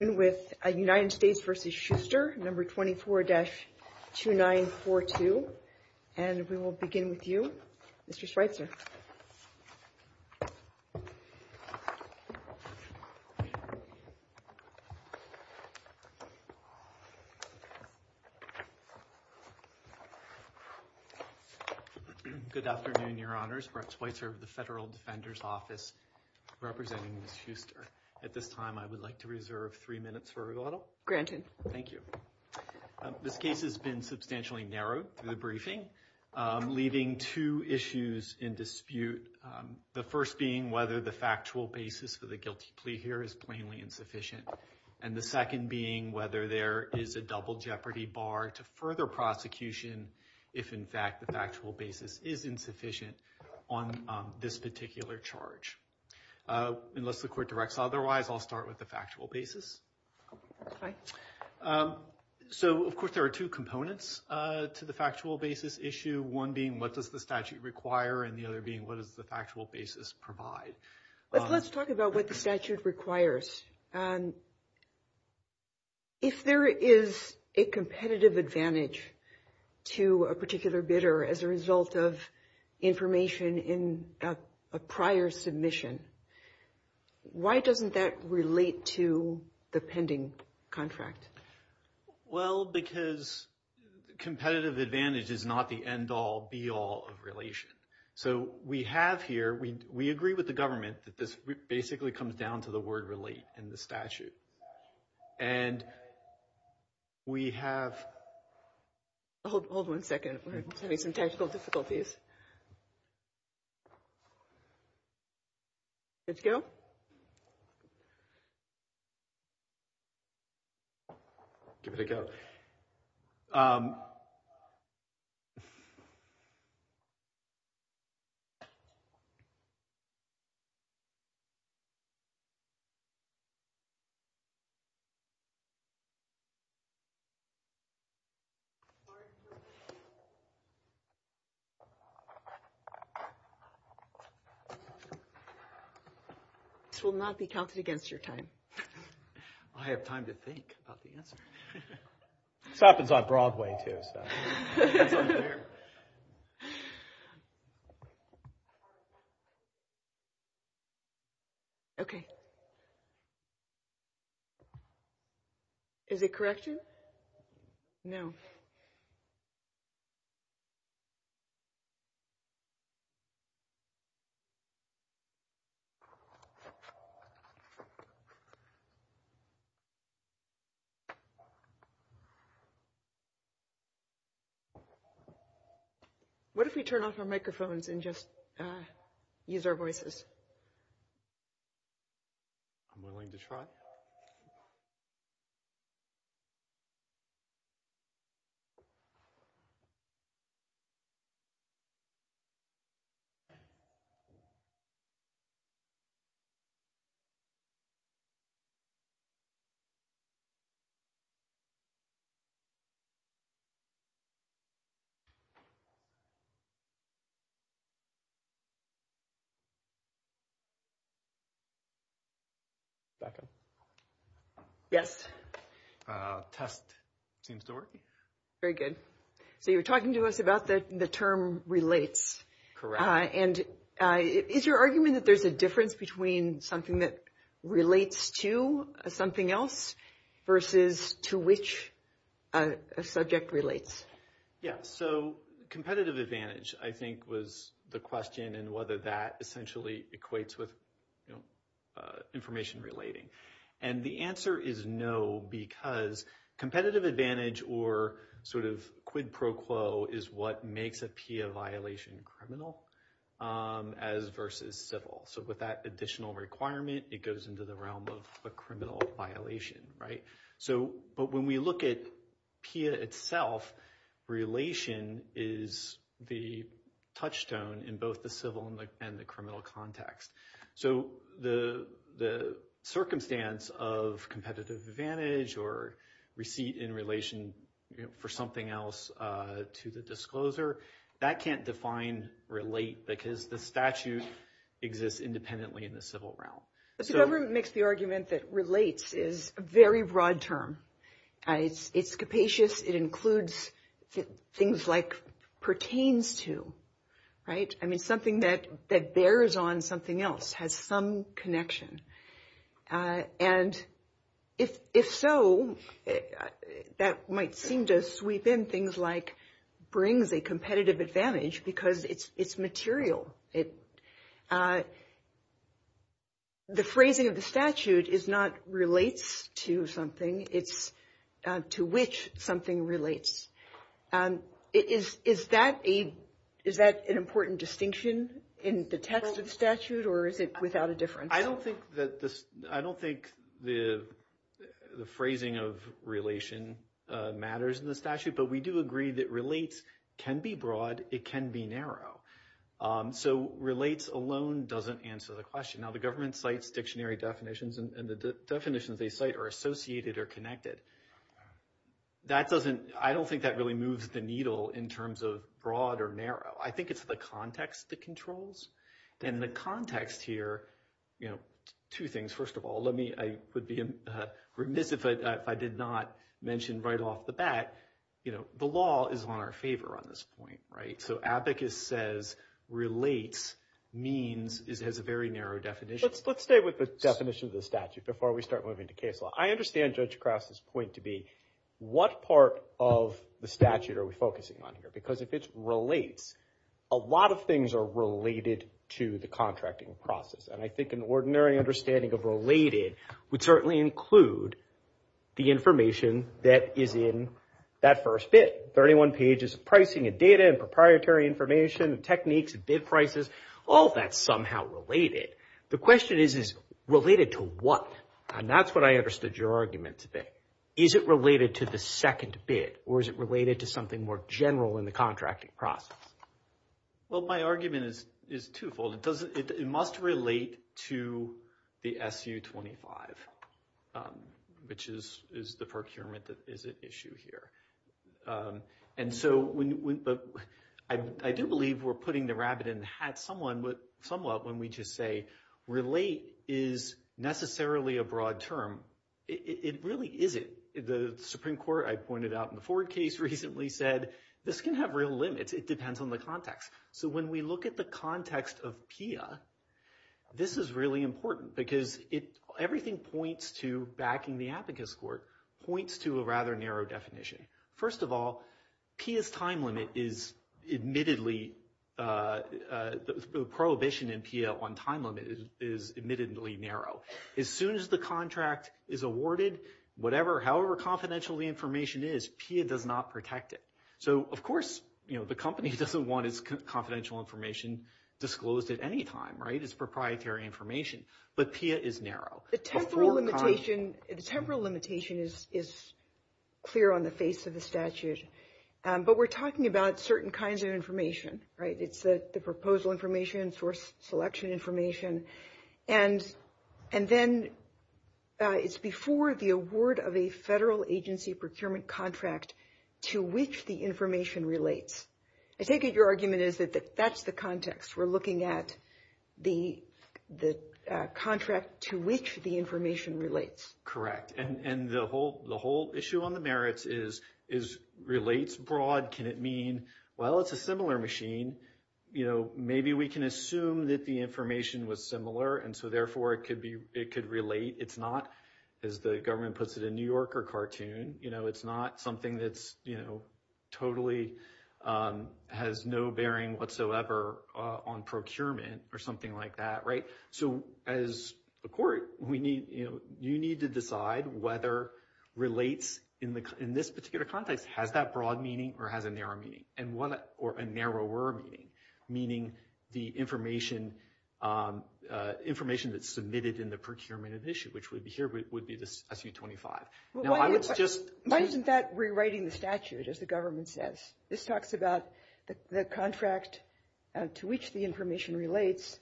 No. 24-2942. And we will begin with you, Mr. Schweitzer. Good afternoon, Your Honors. Mark Schweitzer of the Federal Defender's Office representing At this time, I would like to reserve three minutes for rebuttal. Granted. Thank you. This case has been substantially narrowed in the briefing, leaving two issues in dispute. The first being whether the factual basis for the guilty plea here is plainly insufficient. And the second being whether there is a double jeopardy bar to further prosecution if, in fact, the factual basis is insufficient on this particular charge. Unless the court directs otherwise, I'll start with the factual basis. So, of course, there are two components to the factual basis issue, one being what does the statute require and the other being what does the factual basis provide. Let's talk about what the statute requires. If there is a competitive advantage to a particular bidder as a result of information in a prior submission, why doesn't that relate to the pending contract? Well, because competitive advantage is not the end-all, be-all of relation. So we have here – we agree with the government that this basically comes down to the word relate in the statute. And we have – Hold one second. We're having some technical difficulties. Let's go. Give it a go. This will not be counted against your time. I have time to think about the answer. This happens on Broadway, too. Okay. Is it correction? No. What if we turn off our microphones and just use our voices? I'm willing to try. Hold on one second. Hold on one second. Yes. Test seems to work. Very good. So you were talking to us about the term relates. Correct. And is your argument that there's a difference between something that relates to something else versus to which a subject relates? Yes. So competitive advantage, I think, was the question and whether that essentially equates with information relating. And the answer is no because competitive advantage or sort of quid pro quo is what makes a PIA violation criminal as versus civil. So with that additional requirement, it goes into the realm of a criminal violation, right? But when we look at PIA itself, relation is the touchstone in both the civil and the criminal context. So the circumstance of competitive advantage or receipt in relation for something else to the discloser, that can't define relate because the statute exists independently in the civil realm. But the government makes the argument that relates is a very broad term. It's capacious. It includes things like pertains to, right? I mean something that bears on something else, has some connection. And if so, that might seem to sweep in things like brings a competitive advantage because it's material. The phrasing of the statute is not relates to something, it's to which something relates. Is that an important distinction in the test of statute or is it without a difference? I don't think the phrasing of relation matters in the statute, but we do agree that relates can be broad, it can be narrow. So relates alone doesn't answer the question. Now, the government cites dictionary definitions and the definitions they cite are associated or connected. I don't think that really moves the needle in terms of broad or narrow. I think it's the context that controls. And the context here, two things. First of all, I would be remiss if I did not mention right off the bat, the law is on our favor on this point, right? So abacus says relates means it has a very narrow definition. Let's stay with the definition of the statute before we start moving to case law. I understand Judge Krause's point to be what part of the statute are we focusing on here? Because if it relates, a lot of things are related to the contracting process. And I think an ordinary understanding of related would certainly include the information that is in that first bid. 31 pages of pricing and data and proprietary information and techniques and bid prices, all that's somehow related. The question is, is related to what? And that's what I understood your argument to be. Is it related to the second bid or is it related to something more general in the contracting process? Well, my argument is twofold. It must relate to the SU-25, which is the procurement that is at issue here. And so I do believe we're putting the rabbit in the hat somewhat when we just say relate is necessarily a broad term. It really isn't. The Supreme Court, I pointed out in the Ford case recently, said this can have real limits. It depends on the context. So when we look at the context of PIA, this is really important because everything points to backing the abacus court points to a rather narrow definition. First of all, PIA's time limit is admittedly – the prohibition in PIA on time limit is admittedly narrow. As soon as the contract is awarded, whatever, however confidential the information is, PIA does not protect it. So, of course, the company doesn't want its confidential information disclosed at any time, right? It's proprietary information. But PIA is narrow. The temporal limitation is clear on the face of the statute. But we're talking about certain kinds of information, right? It's the proposal information, source selection information. And then it's before the award of a federal agency procurement contract to which the information relates. I think your argument is that that's the context. We're looking at the contract to which the information relates. Correct. And the whole issue on the merits is relates broad. Can it mean, well, it's a similar machine. Maybe we can assume that the information was similar and so, therefore, it could relate. It's not, as the government puts it in New Yorker cartoon. You know, it's not something that's, you know, totally has no bearing whatsoever on procurement or something like that, right? So, as a court, we need, you know, you need to decide whether relates in this particular context has that broad meaning or has a narrow meaning. Or a narrower meaning, meaning the information that's submitted in the procurement issue, which would be here, would be the SU-25. Why isn't that rewriting the statute, as the government says? This talks about the contract to which the information relates.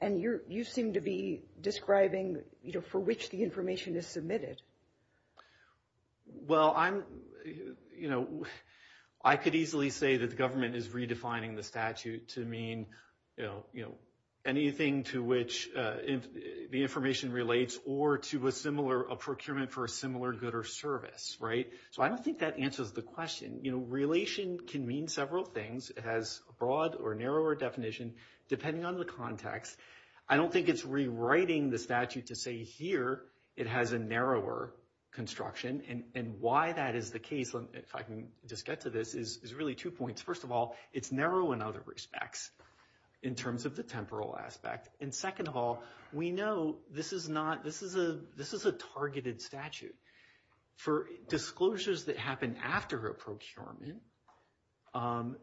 And you seem to be describing, you know, for which the information is submitted. Well, I'm, you know, I could easily say that the government is redefining the statute to mean, you know, anything to which the information relates or to a similar, a procurement for a similar good or service, right? So, I don't think that answers the question. You know, relation can mean several things. It has a broad or narrower definition depending on the context. I don't think it's rewriting the statute to say here it has a narrower construction. And why that is the case, if I can just get to this, is really two points. First of all, it's narrow in other respects in terms of the temporal aspect. And second of all, we know this is not, this is a targeted statute. For disclosures that happen after her approach to armament,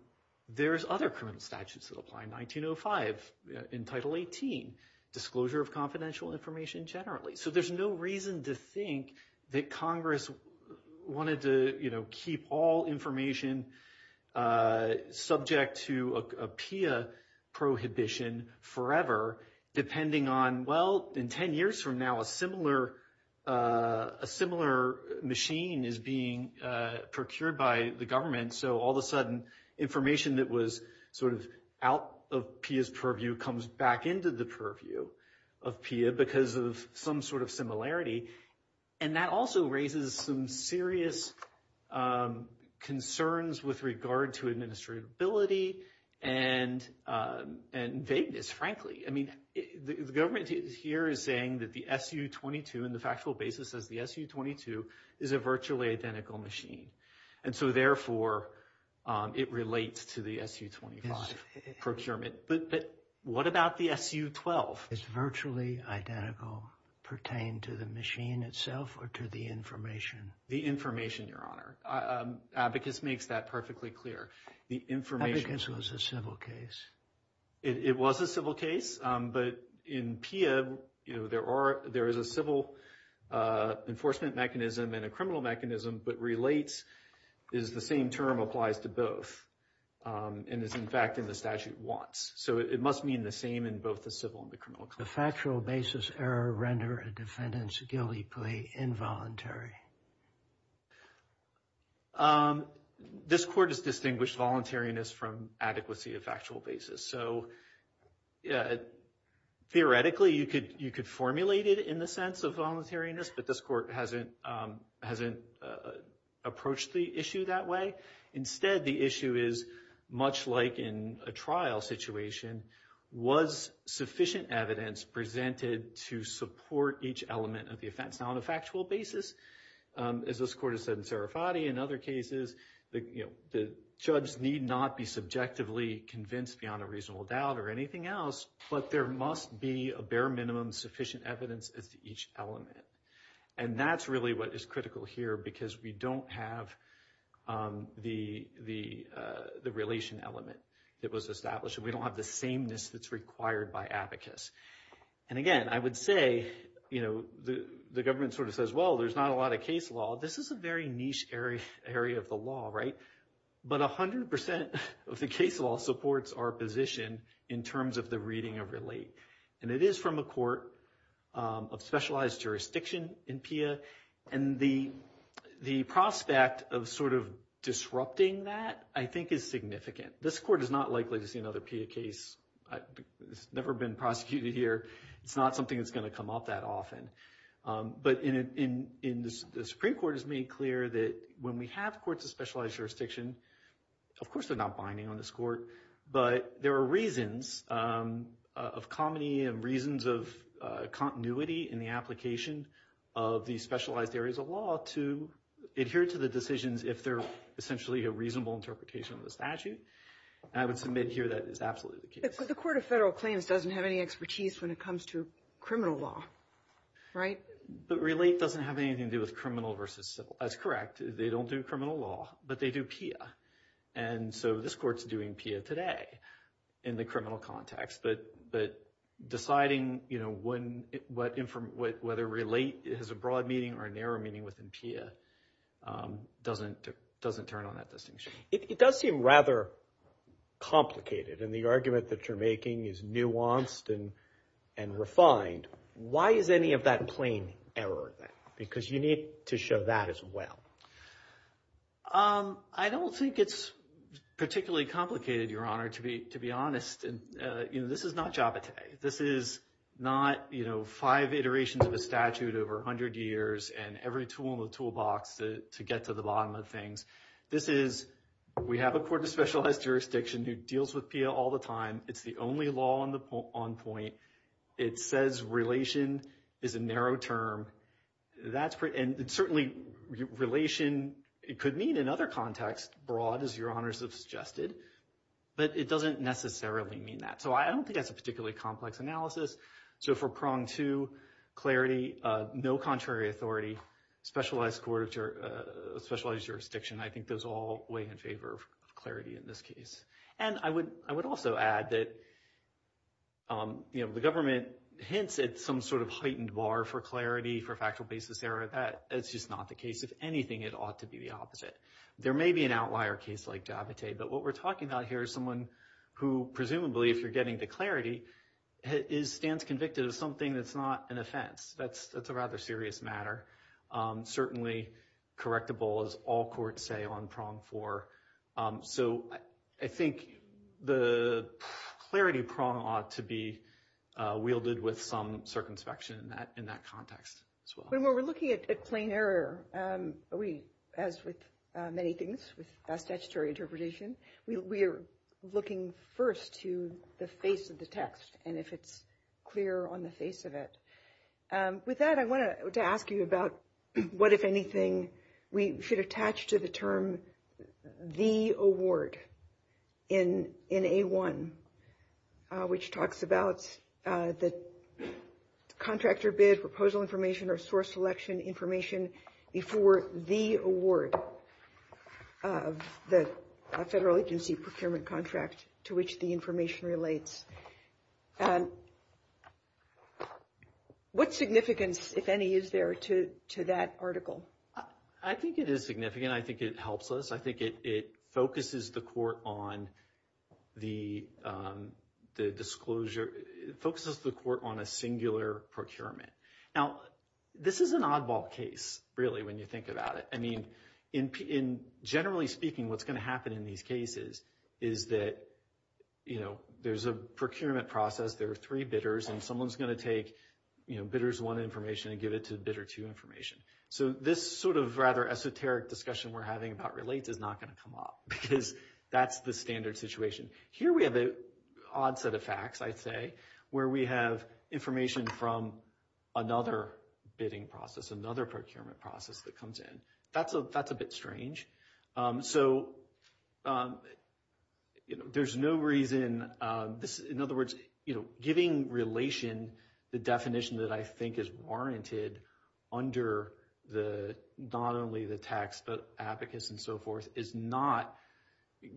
there's other permanent statutes that apply. 1905, in Title 18, disclosure of confidential information generally. So, there's no reason to think that Congress wanted to, you know, keep all information subject to a PIA prohibition forever depending on, well, in 10 years from now, a similar machine is being procured by the government. And so, all of a sudden, information that was sort of out of PIA's purview comes back into the purview of PIA because of some sort of similarity. And that also raises some serious concerns with regard to administratability and vagueness, frankly. I mean, the government here is saying that the SU-22, in the factual basis, says the SU-22 is a virtually identical machine. And so, therefore, it relates to the SU-25 procurement. But what about the SU-12? It's virtually identical, pertained to the machine itself or to the information? The information, Your Honor. Abacus makes that perfectly clear. Abacus was a civil case. It was a civil case. But in PIA, you know, there is a civil enforcement mechanism and a criminal mechanism, but relates is the same term applies to both. And it's, in fact, in the statute once. So, it must mean the same in both the civil and the criminal cases. The factual basis error rendered a defendant's guilty plea involuntary. This court has distinguished voluntariness from adequacy of factual basis. So, theoretically, you could formulate it in the sense of voluntariness, but this court hasn't approached the issue that way. Instead, the issue is, much like in a trial situation, was sufficient evidence presented to support each element of the offense? Now, on a factual basis, as this court has said in Sarafati and other cases, the judge need not be subjectively convinced beyond a reasonable doubt or anything else. But there must be a bare minimum sufficient evidence as to each element. And that's really what is critical here because we don't have the relation element that was established. We don't have the sameness that's required by Abacus. And, again, I would say, you know, the government sort of says, well, there's not a lot of case law. This is a very niche area of the law, right? But 100% of the case law supports our position in terms of the reading of relate. And it is from a court of specialized jurisdiction in PIA. And the prospect of sort of disrupting that, I think, is significant. This court is not likely to see another PIA case. It's never been prosecuted here. It's not something that's going to come up that often. But the Supreme Court has made clear that when we have courts of specialized jurisdiction, of course they're not binding on this court. But there are reasons of comity and reasons of continuity in the application of these specialized areas of law to adhere to the decisions if they're essentially a reasonable interpretation of the statute. I would submit here that is absolutely the case. The Court of Federal Claims doesn't have any expertise when it comes to criminal law, right? But relate doesn't have anything to do with criminal versus civil. That's correct. They don't do criminal law, but they do PIA. And so this court's doing PIA today in the criminal context. But deciding, you know, whether relate has a broad meaning or a narrow meaning within PIA doesn't turn on that distinction. It does seem rather complicated. And the argument that you're making is nuanced and refined. Why is any of that in plain error then? Because you need to show that as well. I don't think it's particularly complicated, Your Honor, to be honest. And, you know, this is not Java today. This is not, you know, five iterations of the statute over 100 years and every tool in the toolbox to get to the bottom of things. This is we have a Court of Specialized Jurisdiction that deals with PIA all the time. It's the only law on point. It says relation is a narrow term. And certainly relation, it could mean another context, broad, as Your Honors have suggested. But it doesn't necessarily mean that. So I don't think that's a particularly complex analysis. So for prong two, clarity, no contrary authority, specialized jurisdiction, I think those all weigh in favor of clarity in this case. And I would also add that, you know, the government hints at some sort of heightened bar for clarity, for factual basis error. That is just not the case. If anything, it ought to be the opposite. There may be an outlier case like Java today, but what we're talking about here is someone who presumably, if you're getting the clarity, stands convicted of something that's not an offense. That's a rather serious matter. Certainly correctable, as all courts say, on prong four. So I think the clarity prong ought to be wielded with some circumspection in that context as well. When we're looking at plain error, as with many things with statutory interpretation, we are looking first to the face of the text and if it's clear on the face of it. With that, I wanted to ask you about what, if anything, we should attach to the term the award in A1, which talks about the contractor bid, proposal information, or source selection information before the award of the federal agency procurement contract to which the information relates. What significance, if any, is there to that article? I think it is significant. I think it helps us. I think it focuses the court on a singular procurement. Now, this is an oddball case, really, when you think about it. Generally speaking, what's going to happen in these cases is that there's a procurement process, there are three bidders, and someone's going to take bidders one information and give it to bidder two information. So this sort of rather esoteric discussion we're having about relates is not going to come up because that's the standard situation. Here we have an odd set of facts, I'd say, where we have information from another bidding process, another procurement process that comes in. That's a bit strange. So there's no reason, in other words, giving relation the definition that I think is warranted under not only the text, but advocates and so forth, is not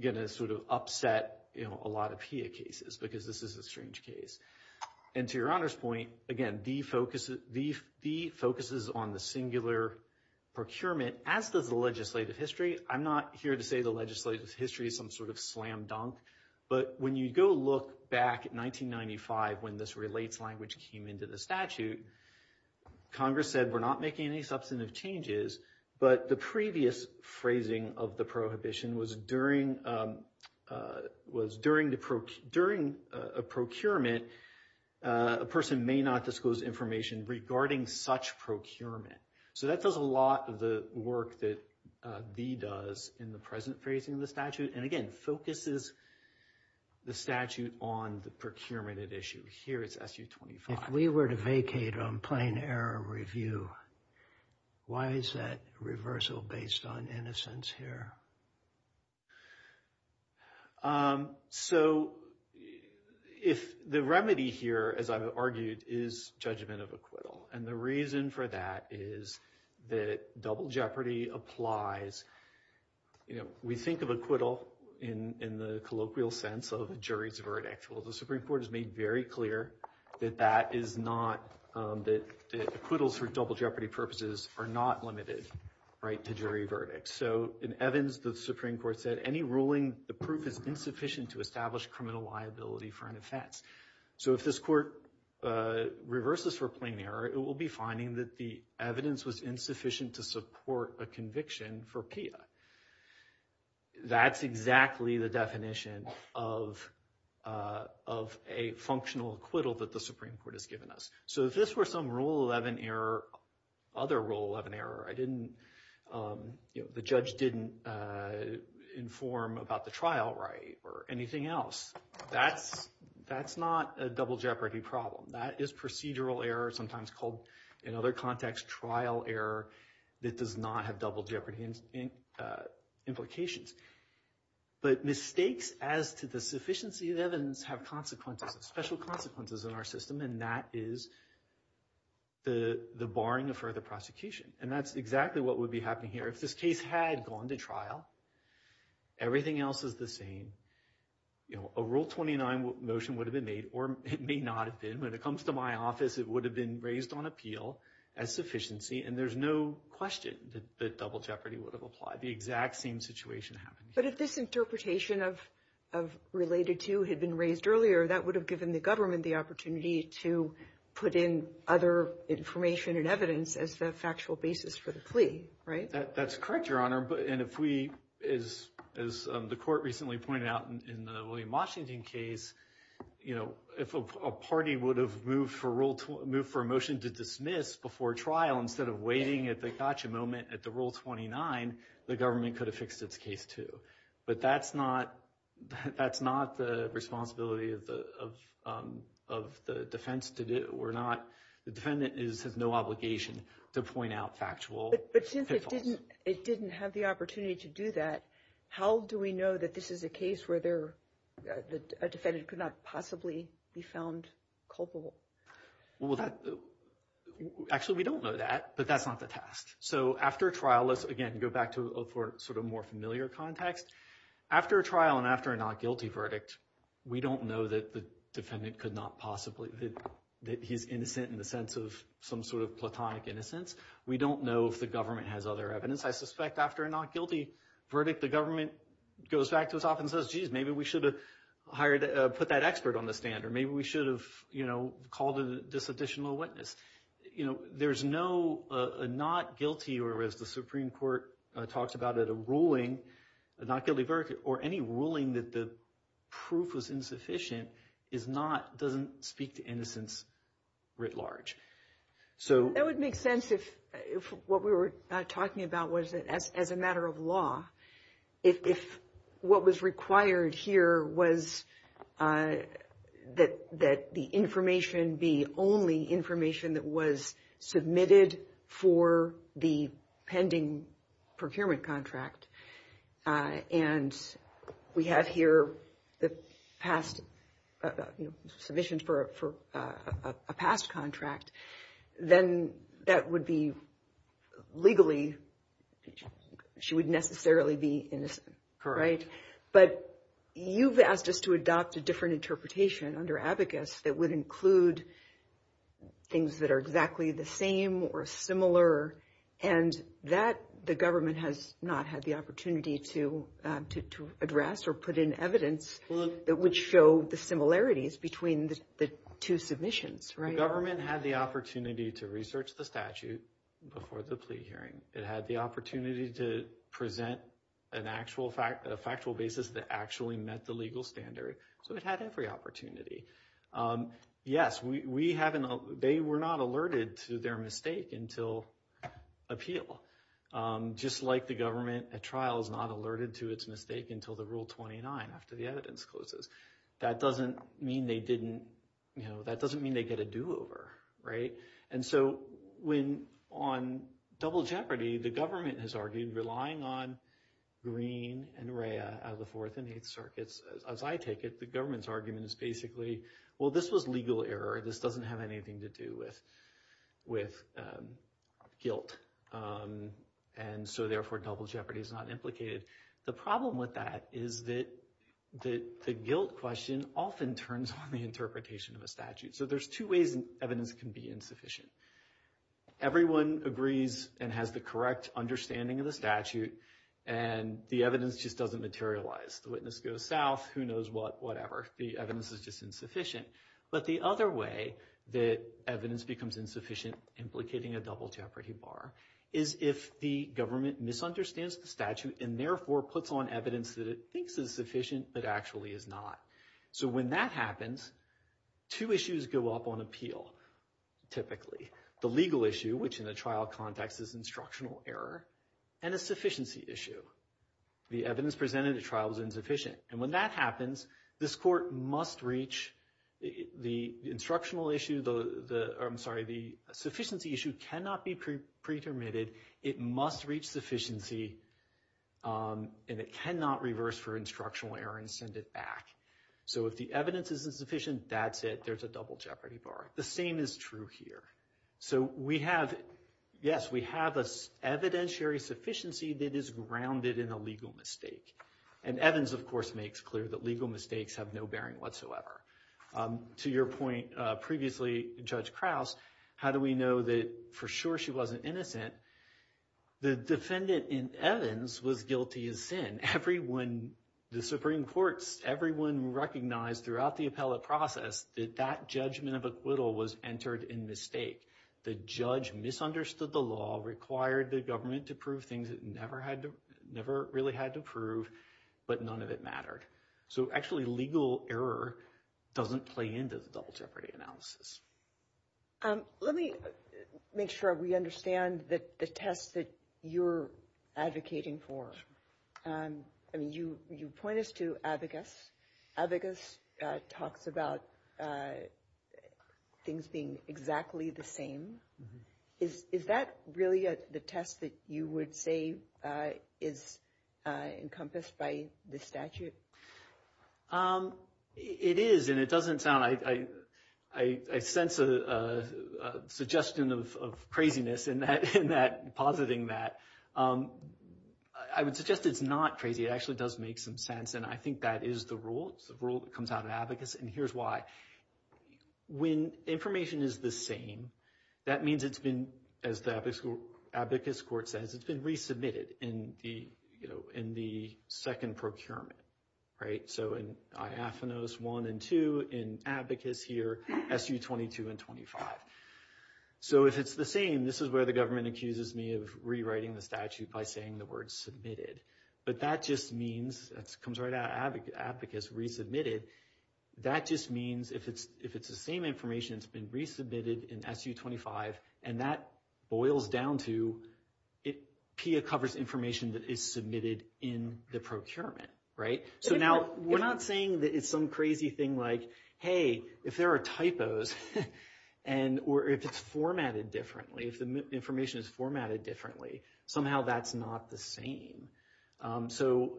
going to sort of upset a lot of HEA cases because this is a strange case. And to your honest point, again, D focuses on the singular procurement as does the legislative history. I'm not here to say the legislative history is some sort of slam dunk, but when you go look back at 1995 when this relates language came into the statute, Congress said we're not making any substantive changes. But the previous phrasing of the prohibition was during a procurement, a person may not disclose information regarding such procurement. So that does a lot of the work that D does in the present phrasing of the statute, and again, focuses the statute on the procurement at issue. If we were to vacate on plain error review, why is that reversal based on innocence here? So the remedy here, as I've argued, is judgment of acquittal, and the reason for that is that double jeopardy applies. We think of acquittal in the colloquial sense of a jury's verdict. Well, the Supreme Court has made very clear that that is not – that acquittals for double jeopardy purposes are not limited to jury verdicts. So in Evans, the Supreme Court said any ruling approved is insufficient to establish criminal liability for an offense. So if this court reverses for plain error, it will be finding that the evidence was insufficient to support a conviction for PIA. That's exactly the definition of a functional acquittal that the Supreme Court has given us. So if this were some Rule 11 error, other Rule 11 error, I didn't – the judge didn't inform about the trial right or anything else, that's not a double jeopardy problem. That is procedural error, sometimes called in other contexts trial error that does not have double jeopardy implications. But mistakes as to the sufficiency of Evans have consequences, special consequences in our system, and that is the barring of further prosecution. And that's exactly what would be happening here. If this case had gone to trial, everything else is the same. A Rule 29 motion would have been made, or it may not have been. When it comes to my office, it would have been raised on appeal as sufficiency, and there's no question that double jeopardy would have applied. That's not the exact same situation happening. But if this interpretation of related to had been raised earlier, that would have given the government the opportunity to put in other information and evidence as a factual basis for the plea, right? That's correct, Your Honor. And if we – as the court recently pointed out in the William Washington case, if a party would have moved for a motion to dismiss before trial instead of waiting at the gotcha moment at the Rule 29, the government could have fixed its case too. But that's not the responsibility of the defense to do. We're not – the defendant has no obligation to point out factual – But since it didn't have the opportunity to do that, how do we know that this is a case where a defendant could not possibly be found culpable? Well, that – actually, we don't know that, but that's not the task. So after trial – let's, again, go back to a sort of more familiar context. After a trial and after a not guilty verdict, we don't know that the defendant could not possibly – that he's innocent in the sense of some sort of platonic innocence. We don't know if the government has other evidence. I suspect after a not guilty verdict, the government goes back to itself and says, geez, maybe we should have hired – put that expert on the stand or maybe we should have called this additional witness. There's no not guilty or, as the Supreme Court talks about it, a ruling – a not guilty verdict or any ruling that the proof was insufficient is not – doesn't speak to innocence writ large. That would make sense if what we were talking about was that as a matter of law, if what was required here was that the information be only information that was submitted for the pending procurement contract. And we have here the past – submissions for a past contract. Then that would be legally – she would necessarily be innocent, right? But you've asked us to adopt a different interpretation under abacus that would include things that are exactly the same or similar. And that the government has not had the opportunity to address or put in evidence that would show the similarities between the two submissions, right? The government had the opportunity to research the statute before the plea hearing. It had the opportunity to present an actual – a factual basis that actually met the legal standard. So it had every opportunity. Yes, we haven't – they were not alerted to their mistake until appeal. Just like the government, a trial is not alerted to its mistake until the Rule 29 after the evidence closes. That doesn't mean they didn't – that doesn't mean they get a do-over, right? And so when – on double jeopardy, the government has argued relying on Greene and Rhea as the Fourth and Eighth Circuits, as I take it, the government's argument is basically, well, this was legal error. This doesn't have anything to do with guilt. And so therefore double jeopardy is not implicated. The problem with that is that the guilt question often turns on the interpretation of a statute. So there's two ways evidence can be insufficient. Everyone agrees and has the correct understanding of the statute, and the evidence just doesn't materialize. The witness goes south, who knows what, whatever. The evidence is just insufficient. But the other way that evidence becomes insufficient implicating a double jeopardy bar is if the government misunderstands the statute and therefore puts on evidence that it thinks is sufficient but actually is not. So when that happens, two issues go up on appeal, typically. The legal issue, which in the trial context is instructional error, and a sufficiency issue. The evidence presented at trial is insufficient. And when that happens, this court must reach the instructional issue, I'm sorry, the sufficiency issue cannot be pre-permitted. It must reach sufficiency, and it cannot reverse for instructional error and send it back. So if the evidence is insufficient, that's it. There's a double jeopardy bar. The same is true here. So we have, yes, we have an evidentiary sufficiency that is grounded in a legal mistake. And Evans, of course, makes clear that legal mistakes have no bearing whatsoever. To your point previously, Judge Krause, how do we know that for sure she wasn't innocent? The defendant in Evans was guilty of sin. Everyone, the Supreme Court, everyone recognized throughout the appellate process that that judgment of acquittal was entered in mistake. The judge misunderstood the law, required the government to prove things it never really had to prove, but none of it mattered. So actually legal error doesn't play into the double jeopardy analysis. Let me make sure we understand the test that you're advocating for. You pointed to abacus. Abacus talks about things being exactly the same. Is that really the test that you would say is encompassed by this statute? It is, and it doesn't sound – I sense a suggestion of craziness in that, positing that. I would suggest it's not crazy. It actually does make some sense, and I think that is the rule. It's the rule that comes out of abacus, and here's why. When information is the same, that means it's been, as the abacus court says, it's been resubmitted in the second procurement. So in diaphanos 1 and 2, in abacus here, SU 22 and 25. So if it's the same, this is where the government accuses me of rewriting the statute by saying the word submitted. But that just means – it comes right out, abacus resubmitted. That just means if it's the same information, it's been resubmitted in SU 25, and that boils down to – PIA covers information that is submitted in the procurement, right? So now we're not saying that it's some crazy thing like, hey, if there are typos or if it's formatted differently, if the information is formatted differently, somehow that's not the same. So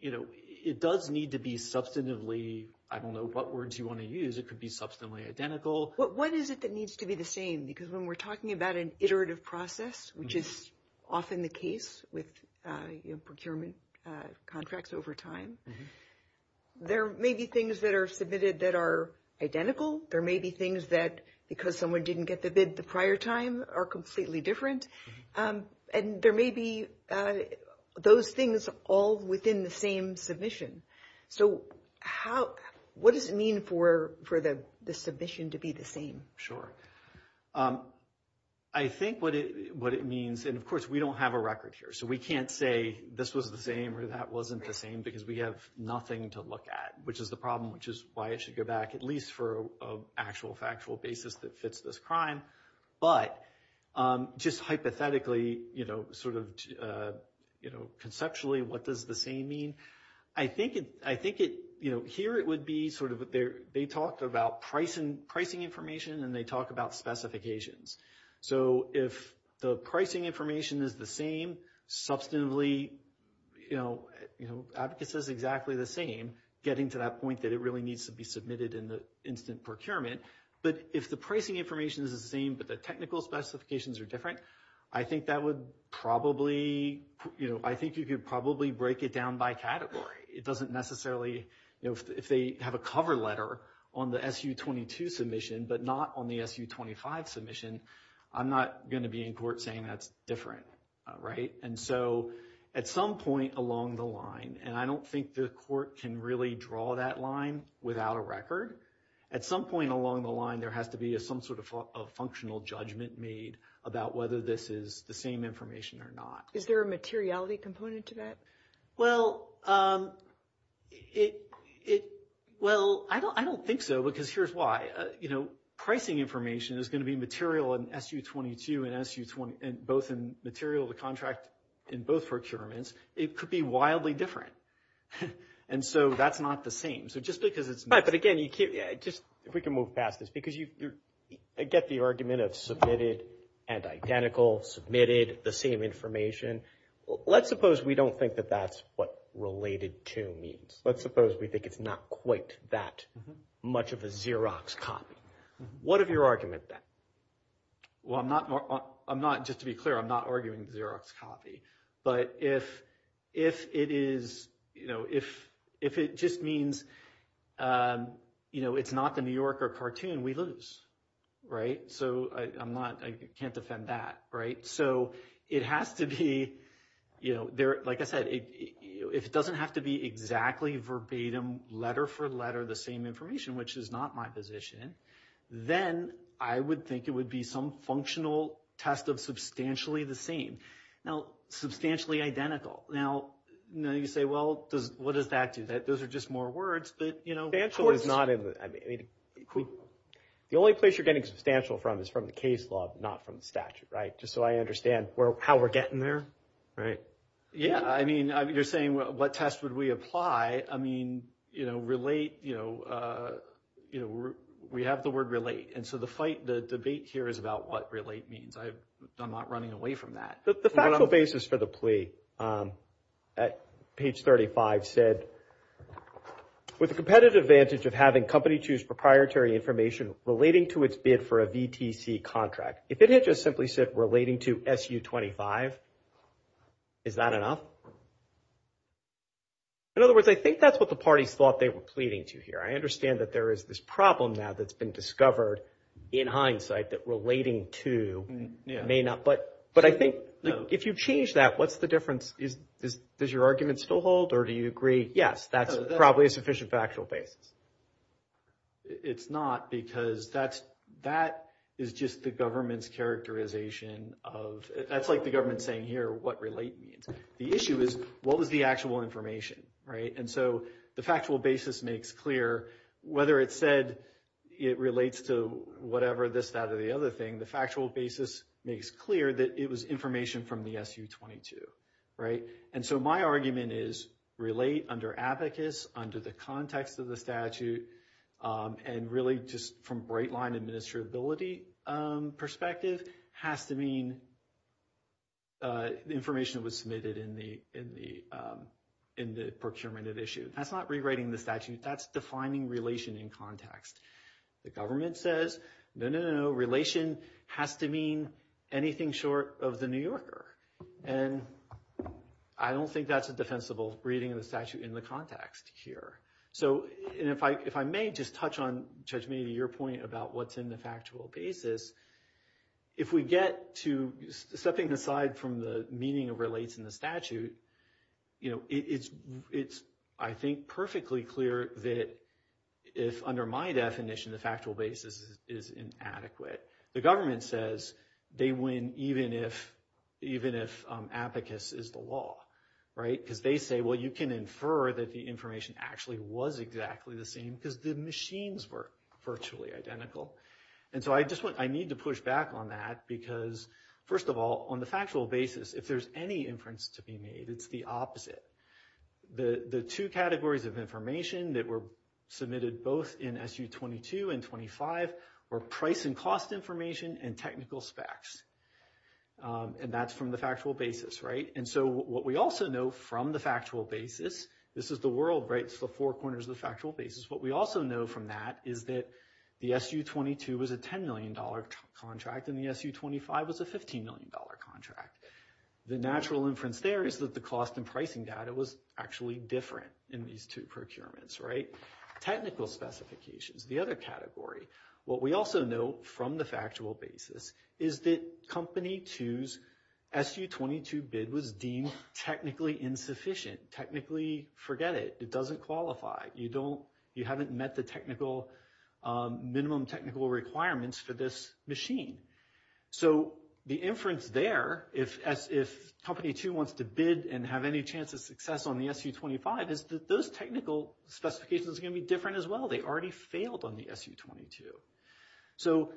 it does need to be substantively – I don't know what words you want to use. It could be substantively identical. What is it that needs to be the same? Because when we're talking about an iterative process, which is often the case with procurement contracts over time, there may be things that are submitted that are identical. There may be things that, because someone didn't get the bid the prior time, are completely different. And there may be those things all within the same submission. So what does it mean for the submission to be the same? Sure. I think what it means – and, of course, we don't have a record here. So we can't say this was the same or that wasn't the same because we have nothing to look at, which is the problem, which is why I should go back at least for an actual factual basis that fits this crime. But just hypothetically, sort of conceptually, what does the same mean? I think it – you know, here it would be sort of they talked about pricing information and they talk about specifications. So if the pricing information is the same, substantively, you know, advocacy is exactly the same getting to that point that it really needs to be submitted in the instant procurement. But if the pricing information is the same but the technical specifications are different, I think that would probably – you know, I think you could probably break it down by category. It doesn't necessarily – you know, if they have a cover letter on the SU-22 submission but not on the SU-25 submission, I'm not going to be in court saying that's different. Right? And so at some point along the line – and I don't think the court can really draw that line without a record. At some point along the line, there has to be some sort of functional judgment made about whether this is the same information or not. Is there a materiality component to that? Well, it – well, I don't think so because here's why. You know, pricing information is going to be material in SU-22 and both in material to contract in both procurements. It could be wildly different. And so that's not the same. So just because it's – Right, but again, you can't – just if we can move past this because you get the argument of submitted and identical, submitted, the same information, let's suppose we don't think that that's what related to means. Let's suppose we think it's not quite that much of a Xerox copy. What is your argument then? Well, I'm not – just to be clear, I'm not arguing the Xerox copy. But if it is – you know, if it just means, you know, it's not the New Yorker cartoon, we lose. Right? So I'm not – I can't defend that. Right? So it has to be – you know, like I said, if it doesn't have to be exactly verbatim, letter for letter the same information, which is not my position, then I would think it would be some functional test of substantially the same. Now, substantially identical. Now, you say, well, what does that do? Those are just more words, but, you know – The only place you're getting substantial from is from the case law, not from the statute. Right? Just so I understand how we're getting there. Right. Yeah, I mean, you're saying what test would we apply. I mean, you know, relate, you know, we have the word relate. And so the debate here is about what relate means. I'm not running away from that. The factual basis for the plea at page 35 said, with the competitive advantage of having company choose proprietary information relating to its bid for a VTC contract. If it had just simply said relating to SU-25, is that enough? In other words, I think that's what the party thought they were pleading to here. I understand that there is this problem now that's been discovered in hindsight that relating to may not – But I think if you change that, what's the difference? Does your argument still hold or do you agree, yes, that's probably a sufficient factual basis? It's not because that is just the government's characterization of – that's like the government saying here what relate means. The issue is what is the actual information, right? And so the factual basis makes clear whether it said it relates to whatever this, that, or the other thing. The factual basis makes clear that it was information from the SU-22, right? And so my argument is relate under abacus, under the context of the statute, and really just from a bright-line administrability perspective has to mean information that was submitted in the procurement of issues. That's not rewriting the statute. That's defining relation in context. The government says, no, no, no, no, relation has to mean anything short of the New Yorker. And I don't think that's a defensible reading of the statute in the context here. So if I may just touch on, Tashmina, your point about what's in the factual basis, if we get to something aside from the meaning of relates in the statute, it's, I think, perfectly clear that if, under my definition, the factual basis is inadequate, the government says they win even if abacus is the law, right? Because they say, well, you can infer that the information actually was exactly the same because the machines were virtually identical. And so I need to push back on that because, first of all, on the factual basis, if there's any inference to be made, it's the opposite. The two categories of information that were submitted both in SU-22 and 25 were price and cost information and technical specs. And that's from the factual basis, right? And so what we also know from the factual basis, this is the world, right? It's the four corners of the factual basis. What we also know from that is that the SU-22 was a $10 million contract and the SU-25 was a $15 million contract. The natural inference there is that the cost and pricing data was actually different in these two procurements, right? Technical specifications, the other category. What we also know from the factual basis is that Company 2's SU-22 bid was deemed technically insufficient, technically forget it. It doesn't qualify. You haven't met the minimum technical requirements for this machine. So the inference there, if Company 2 wants to bid and have any chance of success on the SU-25, is that those technical specifications are going to be different as well. They already failed on the SU-22. So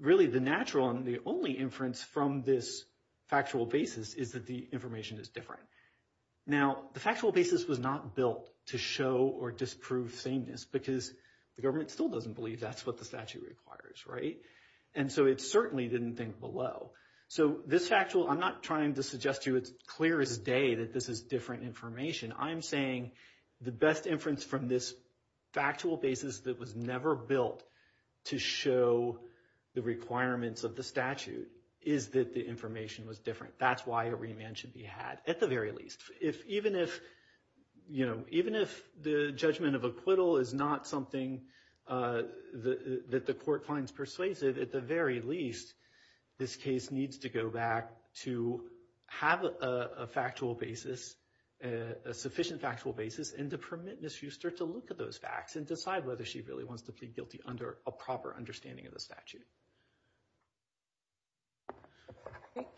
really the natural and the only inference from this factual basis is that the information is different. Now, the factual basis was not built to show or disprove sameness because the government still doesn't believe that's what the statute requires, right? And so it certainly didn't think below. So this factual, I'm not trying to suggest to you as clear as day that this is different information. I'm saying the best inference from this factual basis that was never built to show the requirements of the statute is that the information was different. That's why a remand should be had at the very least. Even if the judgment of acquittal is not something that the court finds persuasive, at the very least, this case needs to go back to have a factual basis, a sufficient factual basis, and to permit Ms. Huster to look at those facts and decide whether she really wants to plead guilty under a proper understanding of the statute.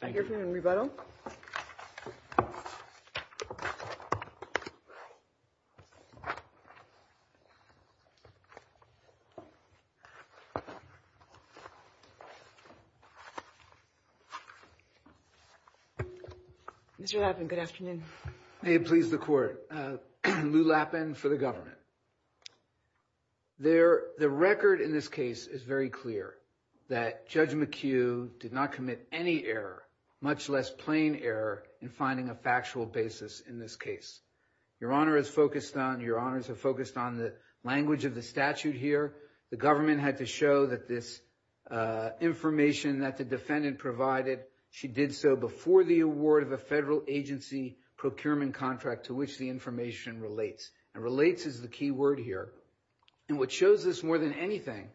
Thank you. Thank you. Rebuttal. Mr. Lapin, good afternoon. May it please the court. Lou Lapin for the government. The record in this case is very clear that Judge McHugh did not commit any error, much less plain error, in finding a factual basis in this case. Your Honor is focused on, your Honors are focused on the language of the statute here. The government had to show that this information that the defendant provided, she did so before the award of a federal agency procurement contract to which the information relates. And relates is the key word here. And what shows this more than anything,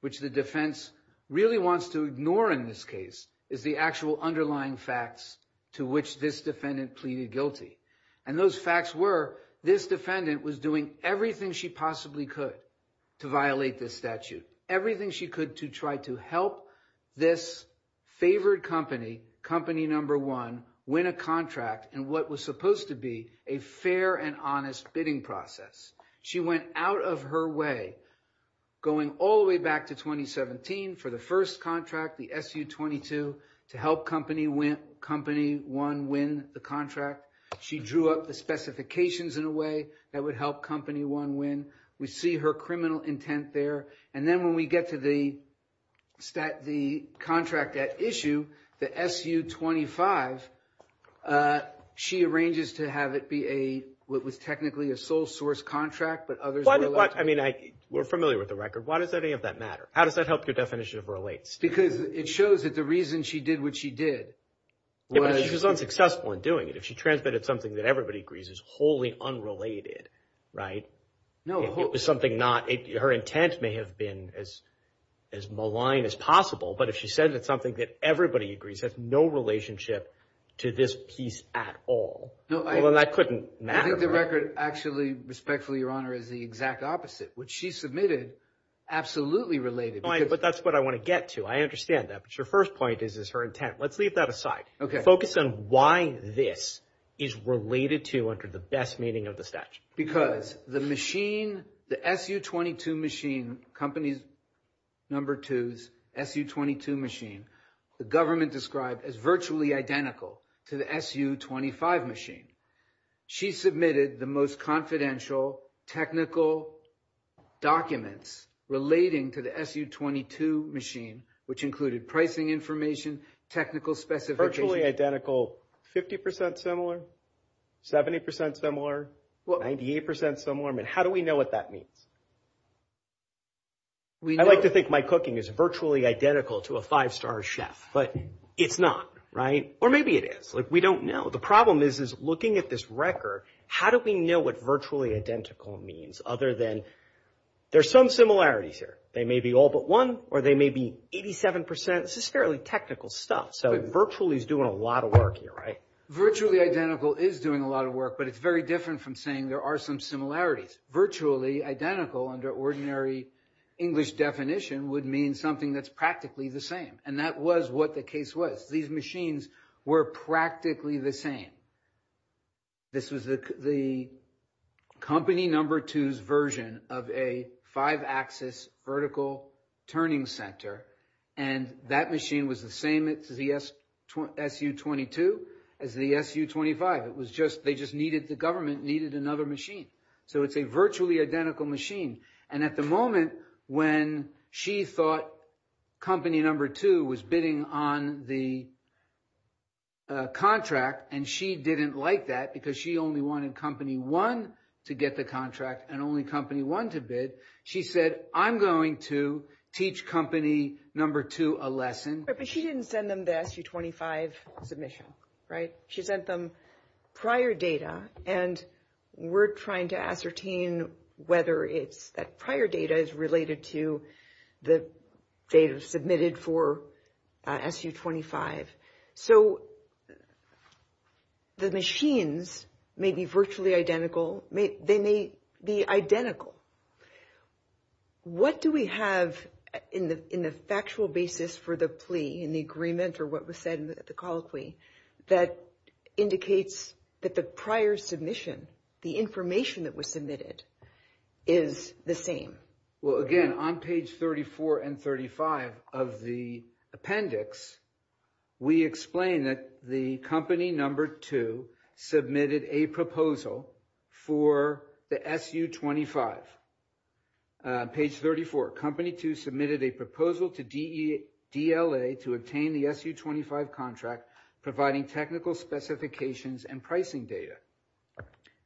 which the defense really wants to ignore in this case, is the actual underlying facts to which this defendant pleaded guilty. And those facts were, this defendant was doing everything she possibly could to violate this statute, everything she could to try to help this favored company, company number one, win a contract in what was supposed to be a fair and honest bidding process. She went out of her way, going all the way back to 2017 for the first contract, the SU-22, to help company one win the contract. She drew up the specifications in a way that would help company one win. We see her criminal intent there. And then when we get to the contract at issue, the SU-25, she arranges to have it be a, what was technically a sole source contract, but others were like. I mean, we're familiar with the record. Why does any of that matter? How does that help your definition of relates? Because it shows that the reason she did what she did. She was unsuccessful in doing it. If she transmitted something that everybody agrees is wholly unrelated, right? No. Her intent may have been as malign as possible, but if she said that something that everybody agrees has no relationship to this piece at all, well, that couldn't matter. I think the record actually, respectfully, Your Honor, is the exact opposite, which she submitted absolutely related. But that's what I want to get to. I understand that. But your first point is her intent. Let's leave that aside. Focus on why this is related to under the best meaning of the statute. Because the machine, the SU-22 machine, company number two's SU-22 machine, the government described as virtually identical to the SU-25 machine. She submitted the most confidential technical documents relating to the SU-22 machine, which included pricing information, technical specifications. Virtually identical. 50% similar? 70% similar? 98% similar? How do we know what that means? I like to think my cooking is virtually identical to a five-star chef, but it's not, right? Or maybe it is. We don't know. The problem is looking at this record, how do we know what virtually identical means other than there's some similarities here. They may be all but one or they may be 87%. This is fairly technical stuff. So virtually is doing a lot of work here, right? Virtually identical is doing a lot of work, but it's very different from saying there are some similarities. Virtually identical under ordinary English definition would mean something that's practically the same, and that was what the case was. These machines were practically the same. This was the company number two's version of a five-axis vertical turning center, and that machine was the same as the SU-22, as the SU-25. They just needed, the government needed another machine. So it's a virtually identical machine. And at the moment when she thought company number two was bidding on the contract and she didn't like that because she only wanted company one to get the contract and only company one to bid, she said, I'm going to teach company number two a lesson. But she didn't send them the SU-25 submission, right? She sent them prior data, and we're trying to ascertain whether that prior data is related to the data submitted for SU-25. So the machines may be virtually identical. They may be identical. What do we have in the factual basis for the plea, in the agreement or what was said in the call plea, that indicates that the prior submission, the information that was submitted, is the same? Well, again, on page 34 and 35 of the appendix, we explain that the company number two submitted a proposal for the SU-25. Page 34, company two submitted a proposal to DLA to obtain the SU-25 contract providing technical specifications and pricing data.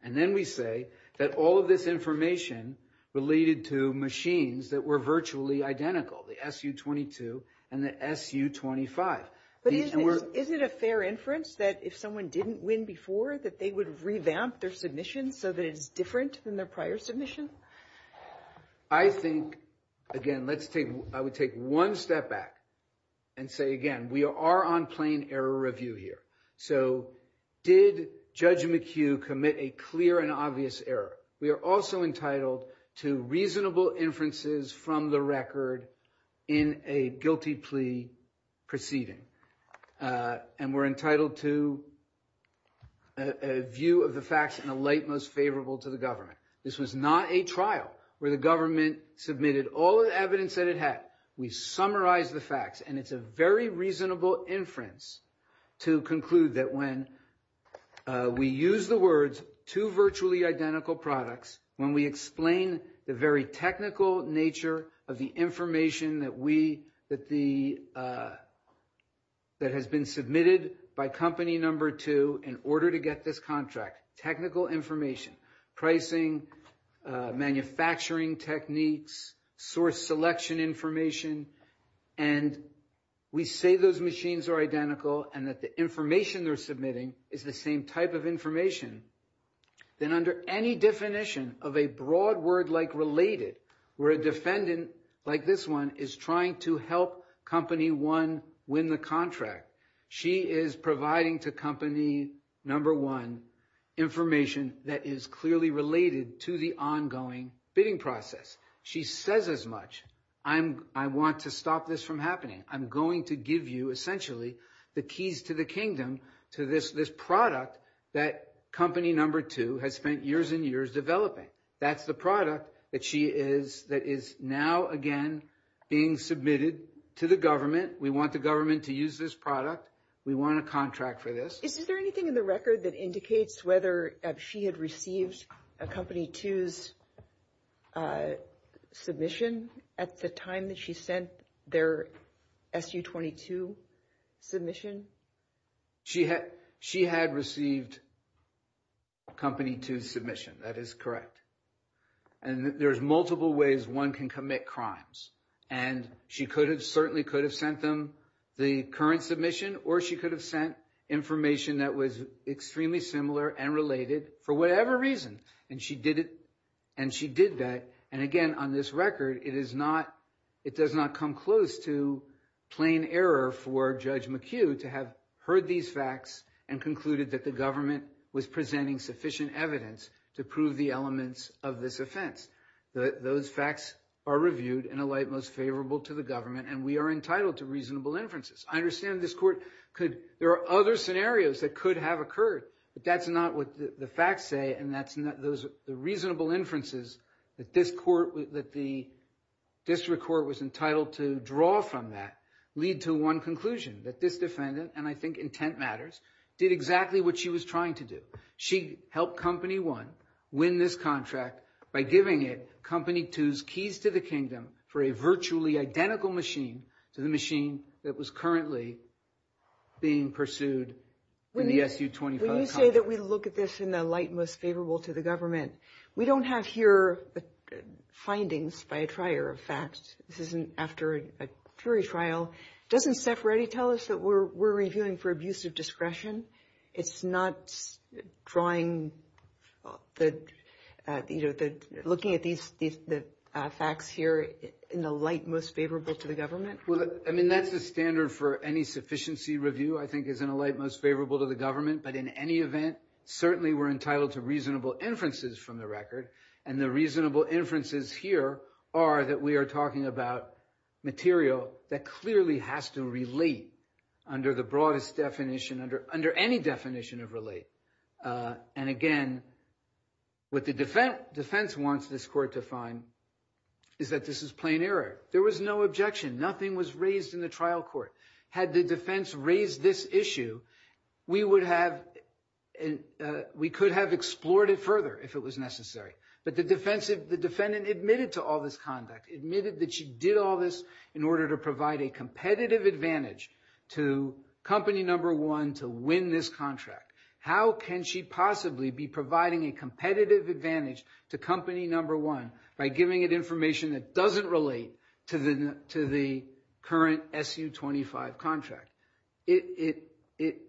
And then we say that all of this information related to machines that were virtually identical, the SU-22 and the SU-25. But isn't it a fair inference that if someone didn't win before that they would revamp their submission so that it's different than their prior submission? I think, again, let's take – I would take one step back and say, again, we are on plain error review here. So did Judge McHugh commit a clear and obvious error? We are also entitled to reasonable inferences from the record in a guilty plea proceeding. And we're entitled to a view of the facts in a light most favorable to the government. This was not a trial where the government submitted all the evidence that it had. We summarized the facts, and it's a very reasonable inference to conclude that when we use the words two virtually identical products, when we explain the very technical nature of the information that we – that the – that has been submitted by company number two in order to get this contract, technical information, pricing, manufacturing techniques, source selection information, and we say those machines are identical and that the information they're submitting is the same type of information, then under any definition of a broad word like related where a defendant like this one is trying to help company one win the contract, she is providing to company number one information that is clearly related to the ongoing bidding process. She says as much. I'm – I want to stop this from happening. I'm going to give you, essentially, the keys to the kingdom to this product that company number two has spent years and years developing. That's the product that she is – that is now, again, being submitted to the government. We want the government to use this product. We want a contract for this. Is there anything in the record that indicates whether she had received a company two's submission at the time that she sent their SU-22 submission? She had received company two's submission. That is correct. And there's multiple ways one can commit crimes. And she could have – certainly could have sent them the current submission or she could have sent information that was extremely similar and related for whatever reason. And she did it – and she did that. And, again, on this record, it is not – it does not come close to plain error for Judge McHugh to have heard these facts and concluded that the government was presenting sufficient evidence to prove the elements of this offense. Those facts are reviewed and alight most favorable to the government, and we are entitled to reasonable inferences. I understand this court could – there are other scenarios that could have occurred, but that's not what the facts say and that's not those – the reasonable inferences that this court – that the district court was entitled to draw from that lead to one conclusion, that this defendant – and I think intent matters – did exactly what she was trying to do. She helped company one win this contract by giving it company two's keys to the kingdom for a virtually identical machine to the machine that was currently being pursued in the SU-25 contract. When you say that we look at this and alight most favorable to the government, we don't have here findings by a trier of facts. This isn't after a jury trial. Doesn't Steph Reddy tell us that we're reviewing for abusive discretion? It's not drawing – looking at these facts here in alight most favorable to the government? Well, I mean, that's the standard for any sufficiency review, I think, is in alight most favorable to the government. But in any event, certainly we're entitled to reasonable inferences from the record, and the reasonable inferences here are that we are talking about material that clearly has to relate under the broadest definition – under any definition of relate. And again, what the defense wants this court to find is that this is plain error. There was no objection. Nothing was raised in the trial court. Had the defense raised this issue, we would have – we could have explored it further if it was necessary. But the defense – the defendant admitted to all this conduct, admitted that she did all this in order to provide a competitive advantage to company number one to win this contract. How can she possibly be providing a competitive advantage to company number one by giving it information that doesn't relate to the current SU-25 contract? It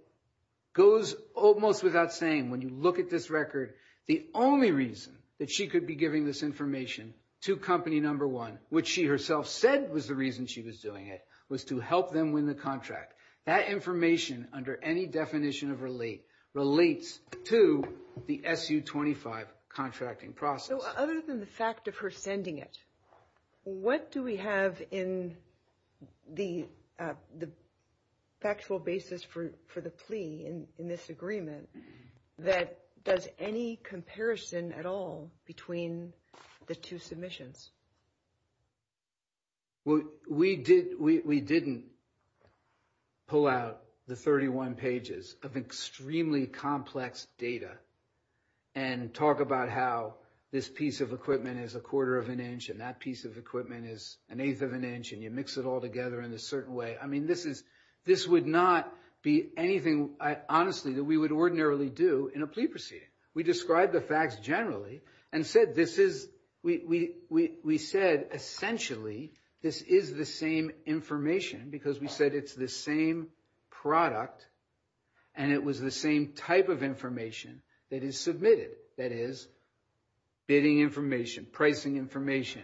goes almost without saying, when you look at this record, the only reason that she could be giving this information to company number one, which she herself said was the reason she was doing it, was to help them win the contract. That information, under any definition of relate, relates to the SU-25 contracting process. So other than the fact of her sending it, what do we have in the factual basis for the plea in this agreement that does any comparison at all between the two submissions? We didn't pull out the 31 pages of extremely complex data and talk about how this piece of equipment is a quarter of an inch and that piece of equipment is an eighth of an inch and you mix it all together in a certain way. I mean, this is – this would not be anything, honestly, that we would ordinarily do in a plea proceeding. We described the facts generally and said this is – we said essentially this is the same information because we said it's the same product and it was the same type of information that is submitted. That is, bidding information, pricing information,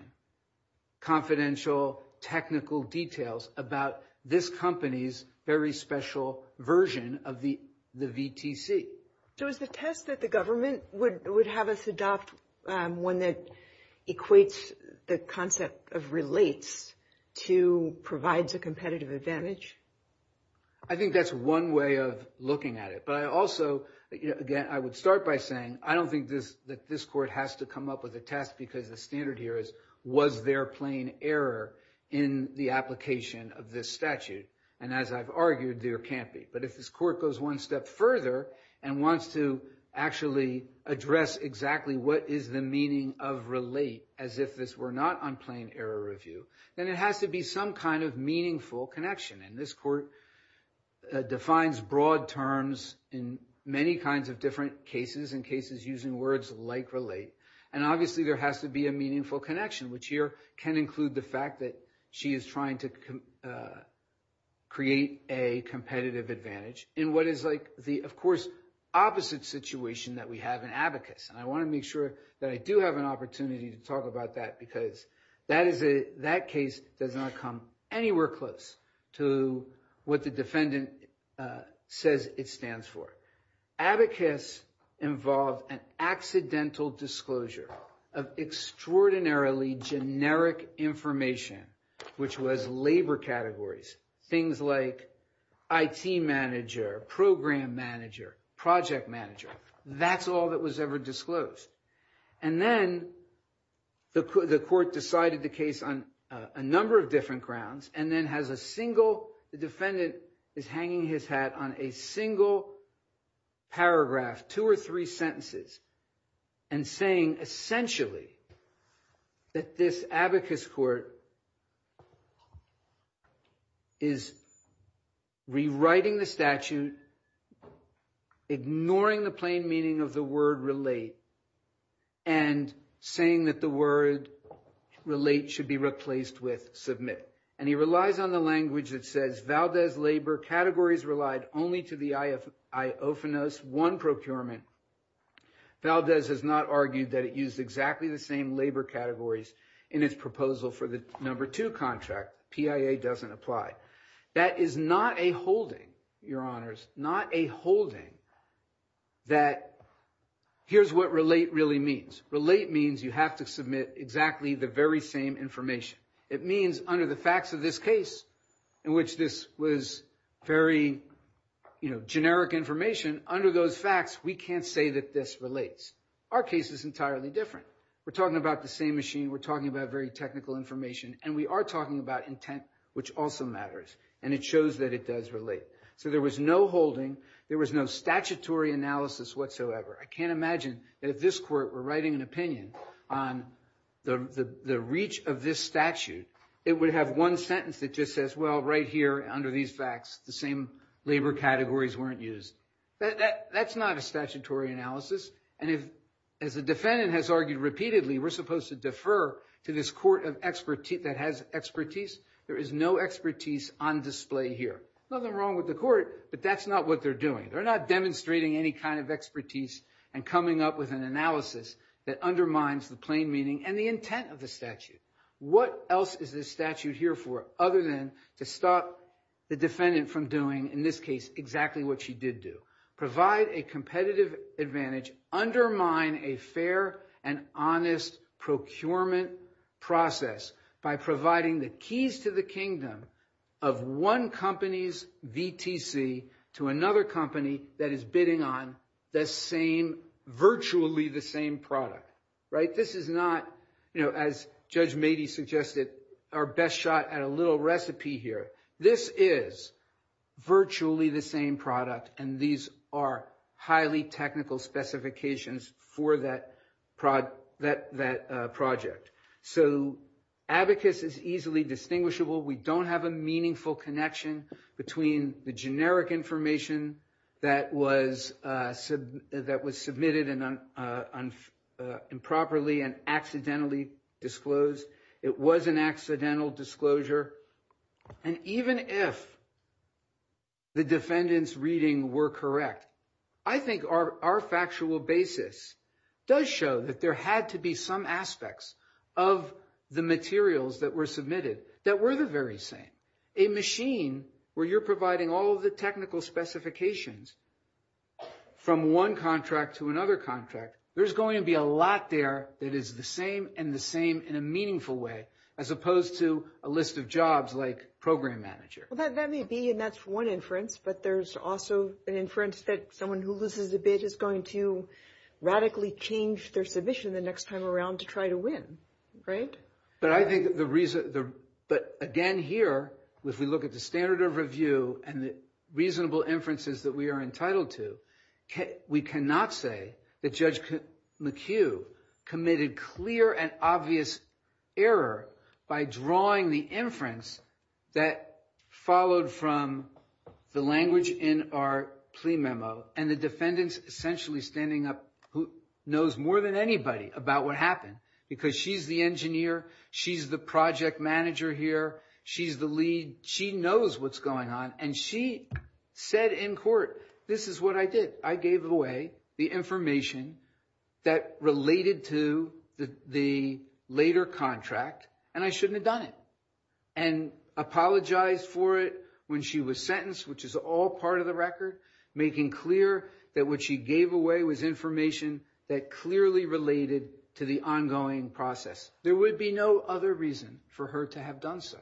confidential technical details about this company's very special version of the VTC. So is the test that the government would have us adopt one that equates the concept of relates to provides a competitive advantage? I think that's one way of looking at it, but I also – again, I would start by saying I don't think that this court has to come up with a test because the standard here is was there plain error in the application of this statute? And as I've argued, there can't be. But if this court goes one step further and wants to actually address exactly what is the meaning of relate as if this were not on plain error review, then it has to be some kind of meaningful connection. And this court defines broad terms in many kinds of different cases, in cases using words like relate, and obviously there has to be a meaningful connection, which here can include the fact that she is trying to create a competitive advantage in what is like the, of course, opposite situation that we have in abacus. And I want to make sure that I do have an opportunity to talk about that because that case does not come anywhere close to what the defendant says it stands for. Abacus involved an accidental disclosure of extraordinarily generic information, which was labor categories, things like IT manager, program manager, project manager. That's all that was ever disclosed. And then the court decided the case on a number of different grounds and then has a single defendant is hanging his hat on a single paragraph, two or three sentences, and saying essentially that this abacus court is rewriting the statute, ignoring the plain meaning of the word relate, and saying that the word relate should be replaced with submit. And he relies on the language that says Valdez labor categories relied only to the IOFNOS 1 procurement. Valdez has not argued that it used exactly the same labor categories in its proposal for the number 2 contract. PIA doesn't apply. That is not a holding, Your Honors, not a holding that here's what relate really means. Relate means you have to submit exactly the very same information. It means under the facts of this case in which this was very, you know, generic information, under those facts we can't say that this relates. Our case is entirely different. We're talking about the same machine, we're talking about very technical information, and we are talking about intent, which also matters. And it shows that it does relate. So there was no holding, there was no statutory analysis whatsoever. I can't imagine that if this court were writing an opinion on the reach of this statute, it would have one sentence that just says, well, right here, under these facts, the same labor categories weren't used. That's not a statutory analysis. As the defendant has argued repeatedly, we're supposed to defer to this court that has expertise. There is no expertise on display here. Nothing wrong with the court, but that's not what they're doing. They're not demonstrating any kind of expertise and coming up with an analysis that undermines the plain meaning and the intent of the statute. What else is this statute here for other than to stop the defendant from doing, in this case, exactly what she did do? Provide a competitive advantage. Undermine a fair and honest procurement process by providing the keys to the kingdom of one company's VTC to another company that is bidding on the same, virtually the same product. This is not, as Judge Mady suggested, our best shot at a little recipe here. This is virtually the same product, and these are highly technical specifications for that project. So abacus is easily distinguishable. We don't have a meaningful connection between the generic information that was submitted improperly and accidentally disclosed. It was an accidental disclosure. And even if the defendant's reading were correct, I think our factual basis does show that there had to be some aspects of the materials that were submitted that were the very same. A machine where you're providing all of the technical specifications from one contract to another contract, there's going to be a lot there that is the same and the same in a meaningful way, as opposed to a list of jobs like program manager. That may be, and that's one inference, but there's also an inference that someone who loses a bid is going to radically change their submission the next time around to try to win, right? But I think the reason, but again here, if we look at the standard of review and the reasonable inferences that we are McHugh committed clear and obvious error by drawing the inference that followed from the language in our plea memo, and the defendant's essentially standing up who knows more than anybody about what happened, because she's the engineer, she's the project manager here, she's the lead. She knows what's going on, and she said in court, this is what I did. I gave away the information that related to the later contract, and I shouldn't have done it, and apologized for it when she was sentenced, which is all part of the record, making clear that what she gave away was information that clearly related to the ongoing process. There would be no other reason for her to have done so.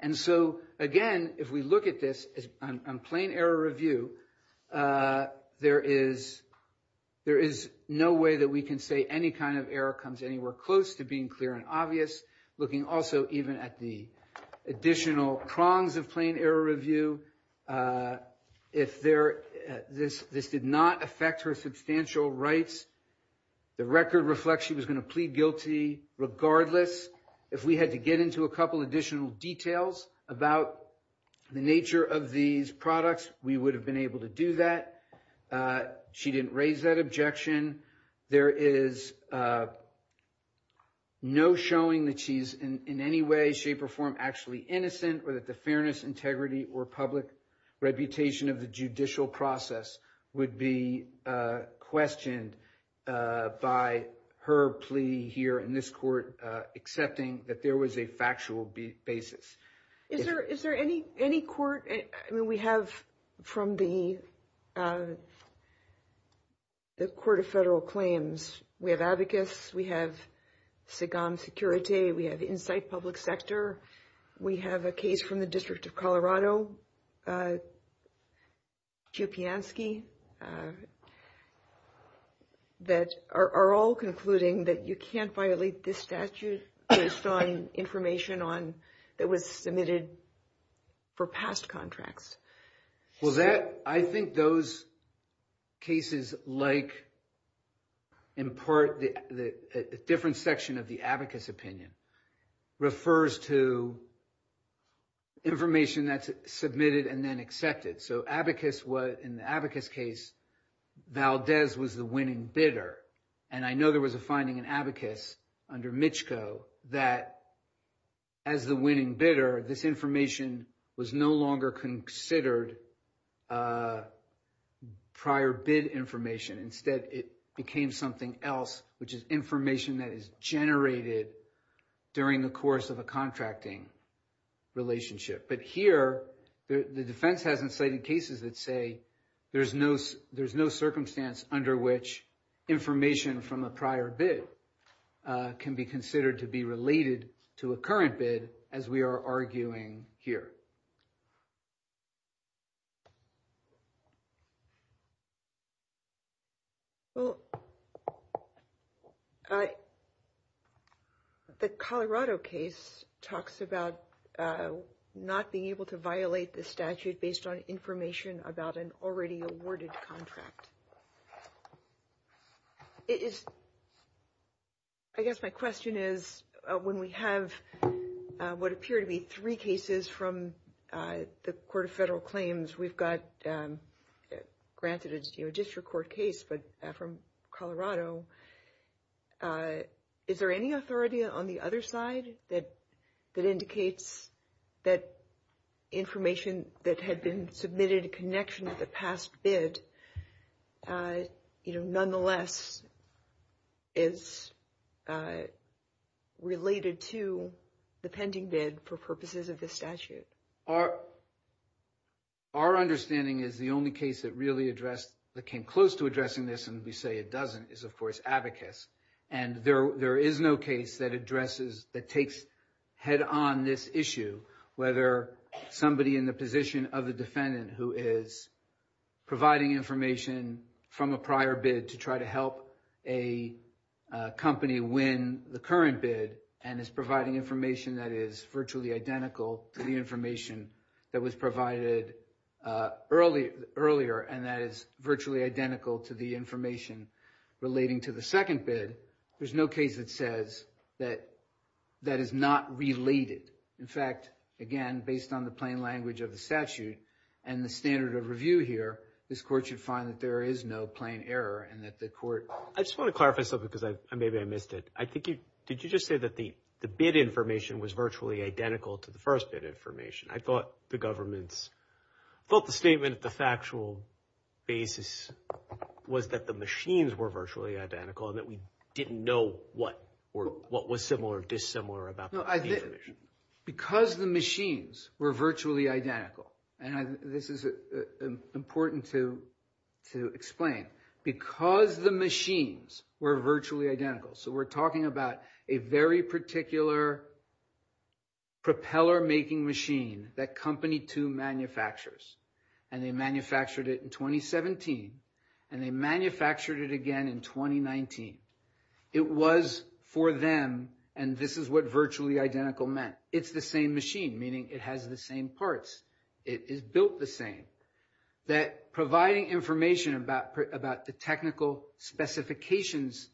And so again, if we look at this on plain error review, there is no way that we can say any kind of error comes anywhere close to being clear and obvious. Looking also even at the additional prongs of plain error review, this did not affect her substantial rights. The record reflects she was going to plead guilty regardless. If we had to get into a couple additional details about the nature of these products, we would have been able to do that. She didn't raise that objection. There is no showing that she's in any way, shape, or form actually innocent, or that the fairness, integrity, or public reputation of the judicial process would be questioned by her plea here in this court accepting that there was a factual basis. Is there any court? I mean, we have from the Court of Federal Claims. We have Abacus. We have SIGOM Security. We have Insight Public Sector. We have a case from the District of Colorado, Jupiansky, that are all concluding that you can't violate this statute to assign information on that was submitted for past contracts. I think those cases like, in part, a different section of the Abacus opinion refers to information that's submitted and then accepted. So in the Abacus case, Valdez was the winning bidder, and I know there was a finding in Abacus under Michco that as the winning bidder, this information was no longer considered prior bid information. Instead, it became something else, which is information that is generated during the course of a contracting relationship. But here, the defense hasn't cited cases that say there's no circumstance under which information from a prior bid can be considered to be related to a current bid as we are arguing here. Well, the Colorado case talks about not being able to violate the statute based on information about an already awarded contract. I guess my question is, when we have what appear to be three cases from the Court of Federal Claims, we've got granted a district court case from Colorado, is there any authority on the other side that indicates that information that had been submitted in connection with the past bid, nonetheless, is related to the pending bid for purposes of this statute? Our understanding is the only case that came close to addressing this, and we say it doesn't, is, of course, Abacus. And there is no case that takes head-on this issue, whether somebody in the position of the defendant who is providing information from a prior bid to try to help a company win the current bid and is providing information that is virtually identical to the information that was provided earlier and that is virtually identical to the information relating to the second bid. There's no case that says that that is not related. In fact, again, based on the plain language of the statute and the standard of review here, this court should find that there is no plain error and that the court... I just want to clarify something because maybe I missed it. Did you just say that the bid information was virtually identical to the first bid information? I thought the government's... I thought the statement at the factual basis was that the machines were virtually identical and that we didn't know what was similar or dissimilar about the information. Because the machines were virtually identical, and this is important to explain. Because the machines were virtually identical, so we're talking about a very particular propeller-making machine that Company 2 manufactures. And they manufactured it in 2017, and they manufactured it again in 2019. It was for them, and this is what virtually identical meant. It's the same machine, meaning it has the same parts. It is built the same. That providing information about the technical specifications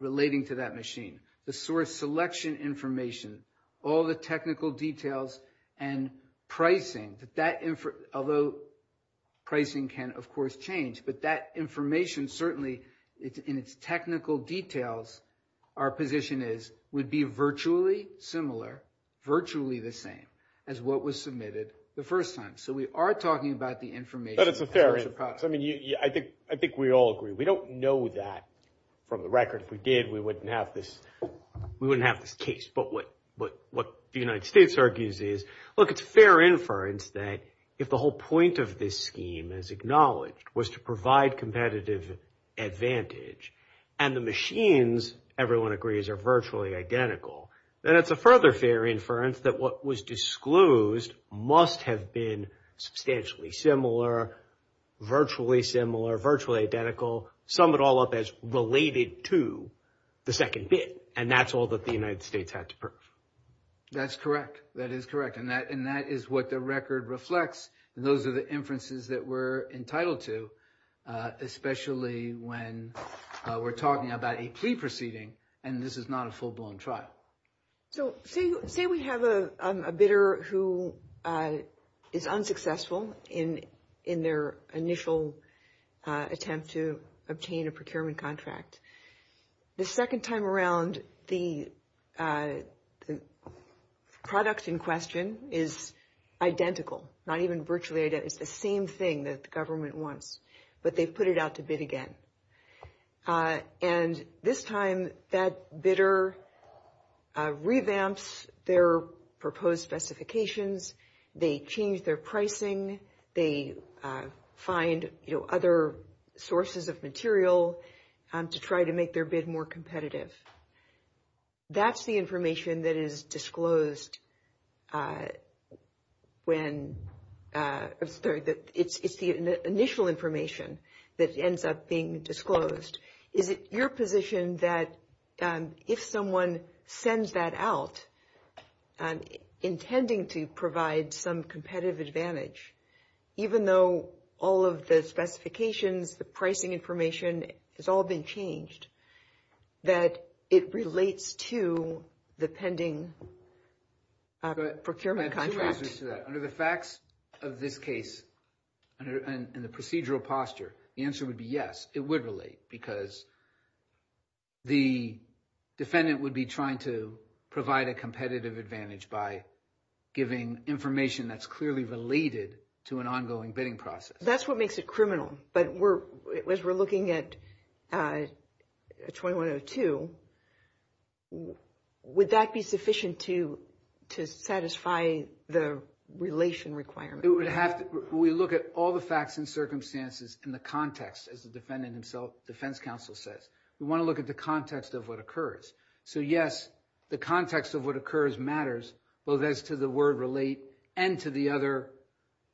relating to that machine, the source selection information, all the technical details, and pricing. Although pricing can, of course, change, but that information certainly, in its technical details, our position is, would be virtually similar, virtually the same, as what was submitted the first time. So we are talking about the information. But it's a fair inference. I mean, I think we all agree. We don't know that from the record. If we did, we wouldn't have this case. But what the United States argues is, look, it's fair inference that if the whole point of this scheme, as acknowledged, was to provide competitive advantage, and the machines, everyone agrees, are virtually identical, then it's a further fair inference that what was disclosed must have been substantially similar, virtually similar, virtually identical, sum it all up as related to the second bit. And that's all that the United States had to prove. That's correct. That is correct. And that is what the record reflects. Those are the inferences that we're entitled to, especially when we're talking about a plea proceeding, and this is not a full-blown trial. So say we have a bidder who is unsuccessful in their initial attempt to obtain a procurement contract. The second time around, the product in question is identical, not even virtually identical. It's the same thing that the government wants. But they've put it out to bid again. And this time, that bidder revamps their proposed specifications. They change their pricing. They find other sources of material to try to make their bid more competitive. That's the information that is disclosed when – sorry, it's the initial information that ends up being disclosed. Is it your position that if someone sends that out intending to provide some competitive advantage, even though all of the specifications, the pricing information has all been changed, that it relates to the pending procurement contract? Correct. Under the facts of this case and the procedural posture, the answer would be yes, it would relate. Because the defendant would be trying to provide a competitive advantage by giving information that's clearly related to an ongoing bidding process. That's what makes it criminal. But as we're looking at 2102, would that be sufficient to satisfy the relation requirement? We look at all the facts and circumstances in the context, as the defendant himself, the defense counsel says. We want to look at the context of what occurs. So yes, the context of what occurs matters, both as to the word relate and to the other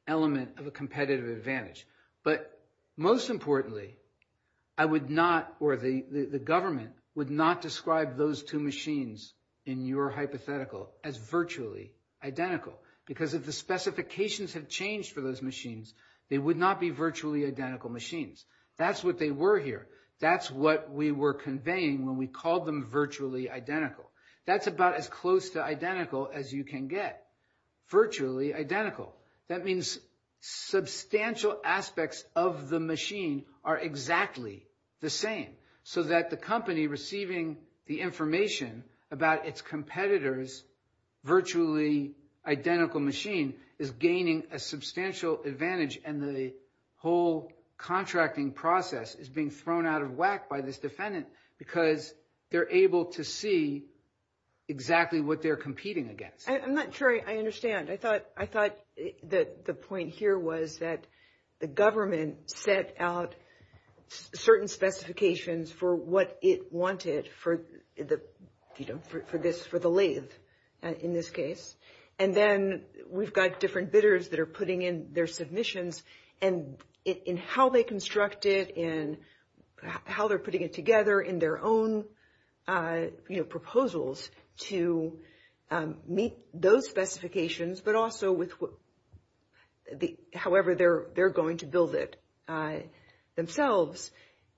element of a competitive advantage. But most importantly, I would not – or the government would not describe those two machines in your hypothetical as virtually identical. Because if the specifications had changed for those machines, they would not be virtually identical machines. That's what they were here. That's what we were conveying when we called them virtually identical. That's about as close to identical as you can get. Virtually identical. That means substantial aspects of the machine are exactly the same, so that the company receiving the information about its competitor's virtually identical machine is gaining a substantial advantage. And the whole contracting process is being thrown out of whack by this defendant because they're able to see exactly what they're competing against. I'm not sure I understand. I thought the point here was that the government set out certain specifications for what it wanted for the lathe, in this case. And then we've got different bidders that are putting in their submissions and how they construct it and how they're putting it together in their own proposals to meet those specifications, but also with however they're going to build it themselves.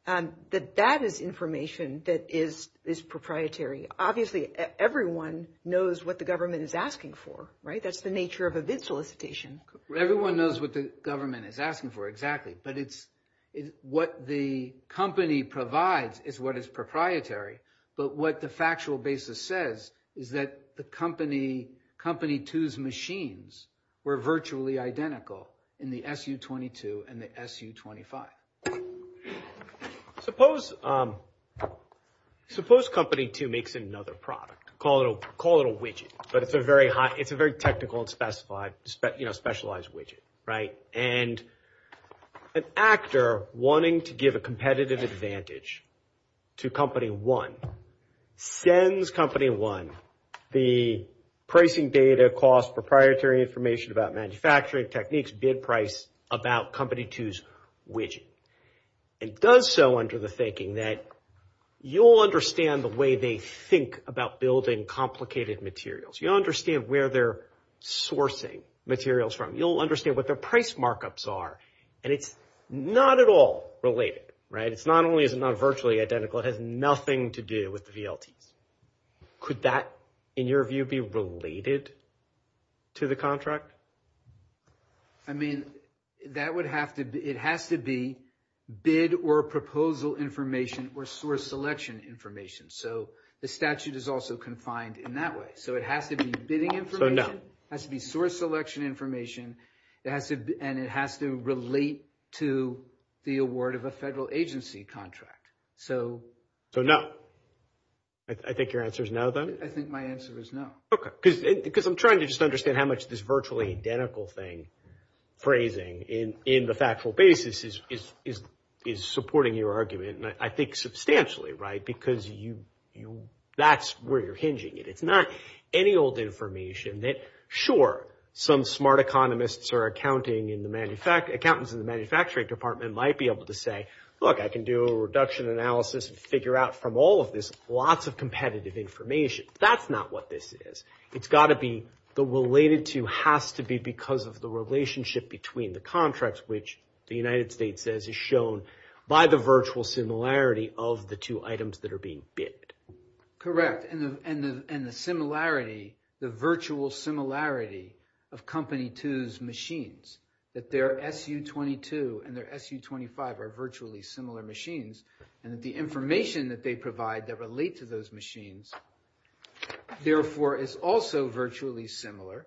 That is information that is proprietary. Obviously, everyone knows what the government is asking for, right? That's the nature of a bid solicitation. Everyone knows what the government is asking for, exactly. But what the company provides is what is proprietary. But what the factual basis says is that the Company 2's machines were virtually identical in the SU-22 and the SU-25. Suppose Company 2 makes another product. Call it a widget, but it's a very technical and specified, you know, specialized widget, right? And an actor wanting to give a competitive advantage to Company 1 sends Company 1 the pricing data, cost, proprietary information about manufacturing techniques, bid price about Company 2's widget. It does so under the thinking that you'll understand the way they think about building complicated materials. You'll understand where they're sourcing materials from. You'll understand what their price markups are. And it's not at all related, right? It's not only is it not virtually identical, it has nothing to do with the VLT. Could that, in your view, be related to the contract? I mean, that would have to be, it has to be bid or proposal information or source selection information. So the statute is also confined in that way. So it has to be bidding information. So no. It has to be source selection information, and it has to relate to the award of a federal agency contract. So no. I think your answer is no, then? I think my answer is no. Okay. Because I'm trying to just understand how much this virtually identical thing phrasing in the factual basis is supporting your argument, and I think substantially, right? Because that's where you're hinging it. It's not any old information that, sure, some smart economists or accountants in the manufacturing department might be able to say, look, I can do a reduction analysis and figure out from all of this lots of competitive information. That's not what this is. It's got to be the related to has to be because of the relationship between the contracts, which the United States says is shown by the virtual similarity of the two items that are being bid. Correct. And the similarity, the virtual similarity of Company 2's machines, that their SU-22 and their SU-25 are virtually similar machines, and that the information that they provide that relate to those machines, therefore, is also virtually similar,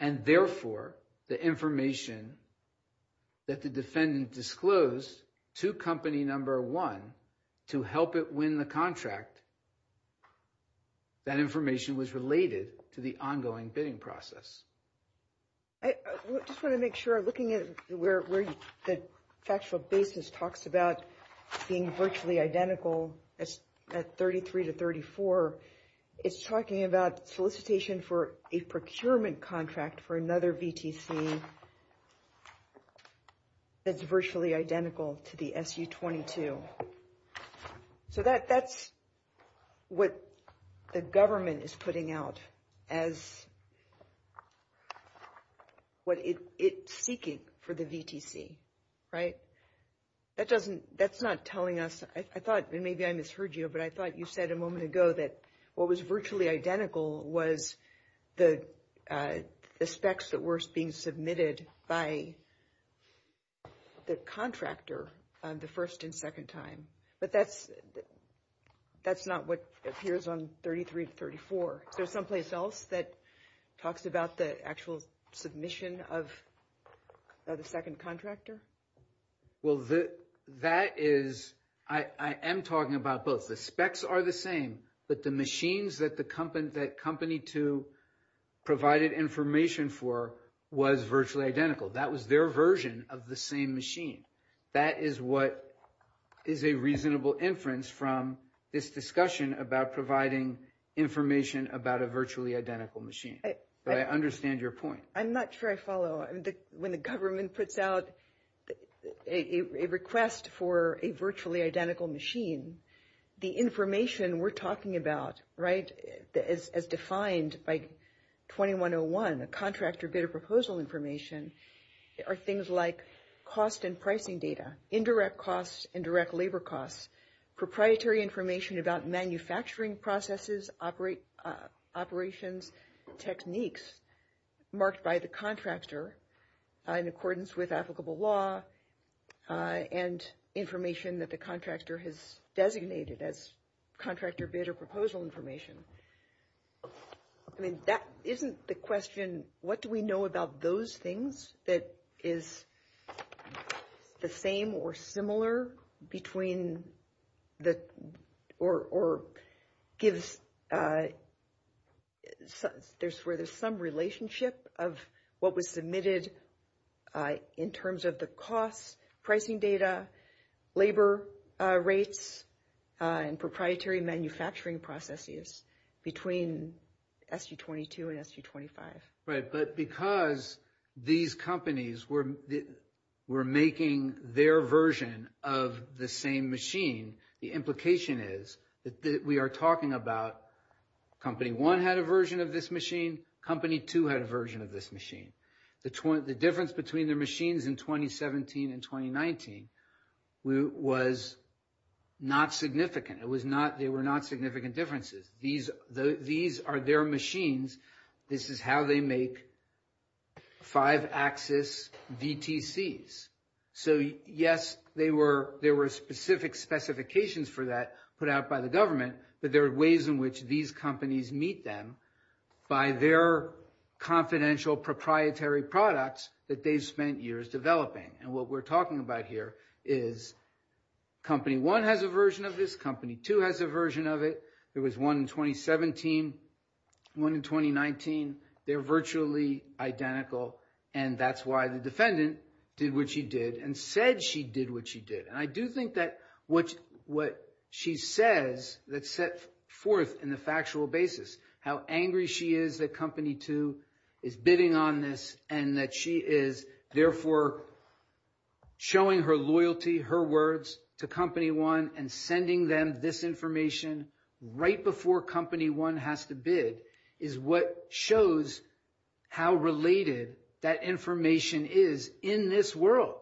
and therefore, the information that the defendant disclosed to Company 1 to help it win the contract, that information was related to the ongoing bidding process. I just want to make sure, looking at where the factual basis talks about being virtually identical at 33 to 34, it's talking about solicitation for a procurement contract for another VTC that's virtually identical to the SU-22. So that's what the government is putting out as what it's seeking for the VTC, right? That doesn't – that's not telling us – I thought – maybe I misheard you, but I thought you said a moment ago that what was virtually identical was the specs that were being submitted by the contractor the first and second time, but that's not what appears on 33 to 34. Is there someplace else that talks about the actual submission of the second contractor? Well, that is – I am talking about both. The specs are the same, but the machines that Company 2 provided information for was virtually identical. That was their version of the same machine. That is what is a reasonable inference from this discussion about providing information about a virtually identical machine. But I understand your point. I'm not sure I follow. When the government puts out a request for a virtually identical machine, the information we're talking about, right, as defined by 2101, the contractor bid or proposal information, are things like cost and pricing data, indirect costs, indirect labor costs, proprietary information about manufacturing processes, operations, techniques marked by the contractor in accordance with applicable law, and information that the contractor has designated as contractor bid or proposal information. I mean, that – isn't the question, what do we know about those things that is the same or similar between the – or gives – where there's some relationship of what was submitted in terms of the cost, pricing data, labor rates, and proprietary manufacturing processes between SU-22 and SU-25. Right, but because these companies were making their version of the same machine, the implication is that we are talking about company one had a version of this machine, company two had a version of this machine. The difference between the machines in 2017 and 2019 was not significant. It was not – they were not significant differences. These are their machines. This is how they make five-axis DTCs. So, yes, they were – there were specific specifications for that put out by the government, but there are ways in which these companies meet them by their confidential proprietary products that they've spent years developing. And what we're talking about here is company one has a version of this, company two has a version of it. There was one in 2017, one in 2019. They're virtually identical, and that's why the defendant did what she did and said she did what she did. And I do think that what she says that sets forth in the factual basis how angry she is that company two is bidding on this and that she is therefore showing her loyalty, her words, to company one and sending them this information right before company one has to bid is what shows how related that information is in this world,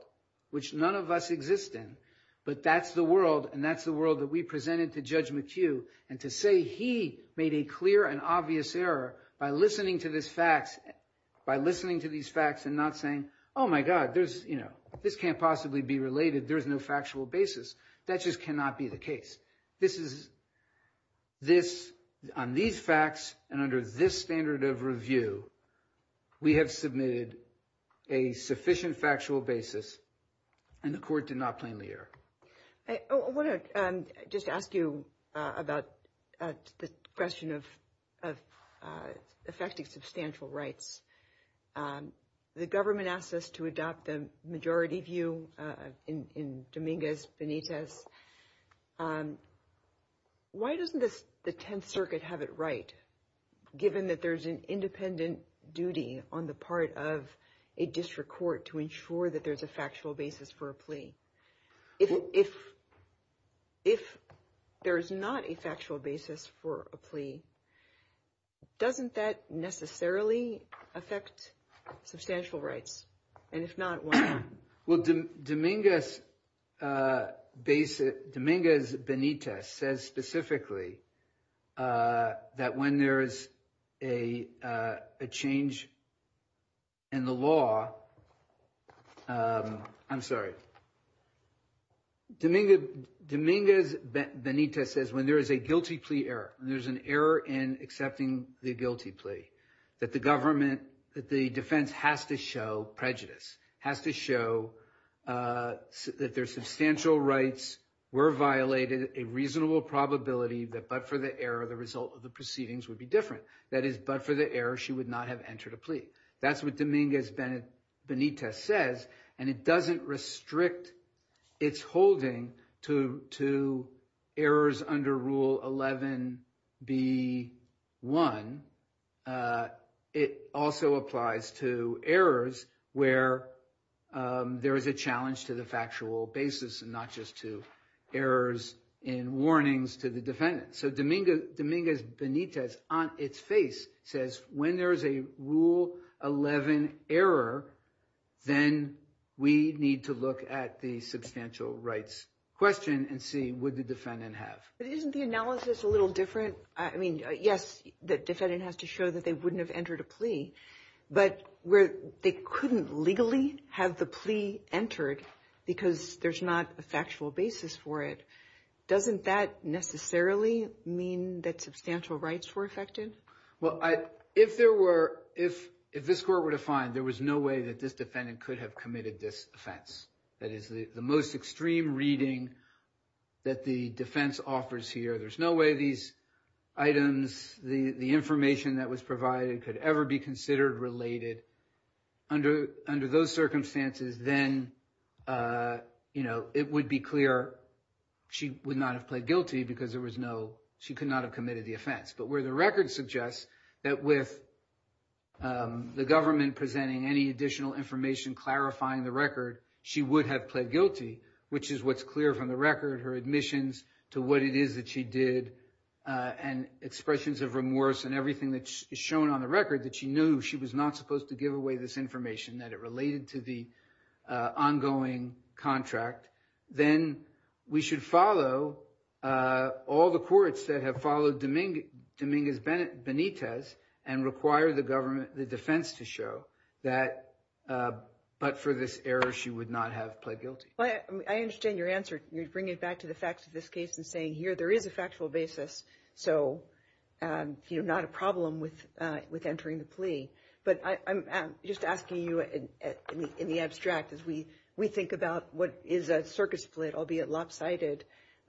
which none of us exist in. But that's the world, and that's the world that we presented to Judge McHugh, and to say he made a clear and obvious error by listening to these facts and not saying, oh, my God, this can't possibly be related. There's no factual basis. That just cannot be the case. On these facts and under this standard of review, we have submitted a sufficient factual basis, and the court did not plainly err. I want to just ask you about the question of affecting substantial rights. The government asked us to adopt the majority view in Dominguez Benitez. Why doesn't the Tenth Circuit have it right, given that there's an independent duty on the part of a district court to ensure that there's a factual basis for a plea? If there's not a factual basis for a plea, doesn't that necessarily affect substantial rights? And if not, why not? Well, Dominguez Benitez says specifically that when there is a change in the law – I'm sorry. Dominguez Benitez says when there is a guilty plea error, there's an error in accepting the guilty plea, that the government – that the defense has to show prejudice, has to show that there's substantial rights were violated, a reasonable probability that but for the error, the result of the proceedings would be different. That is, but for the error, she would not have entered a plea. That's what Dominguez Benitez says, and it doesn't restrict its holding to errors under Rule 11B1. It also applies to errors where there is a challenge to the factual basis, not just to errors in warnings to the defendant. So Dominguez Benitez, on its face, says when there's a Rule 11 error, then we need to look at the substantial rights question and see what the defendant has. But isn't the analysis a little different? I mean, yes, the defendant has to show that they wouldn't have entered a plea, but where they couldn't legally have the plea entered because there's not a factual basis for it. Doesn't that necessarily mean that substantial rights were affected? Well, if there were – if this court were to find there was no way that this defendant could have committed this offense, that is, the most extreme reading that the defense offers here, there's no way these items, the information that was provided could ever be considered related. So under those circumstances, then it would be clear she would not have pled guilty because there was no – she could not have committed the offense. But where the record suggests that with the government presenting any additional information clarifying the record, she would have pled guilty, which is what's clear from the record, her admissions to what it is that she did, and expressions of remorse and everything that is shown on the record that she knew she was not supposed to give away this information, that it related to the ongoing contract, then we should follow all the courts that have followed Dominguez Benitez and require the government – the defense to show that but for this error she would not have pled guilty. Well, I understand your answer. You're bringing it back to the facts of this case and saying here there is a factual basis, so not a problem with entering the plea. But I'm just asking you in the abstract as we think about what is a circuit split, albeit lopsided,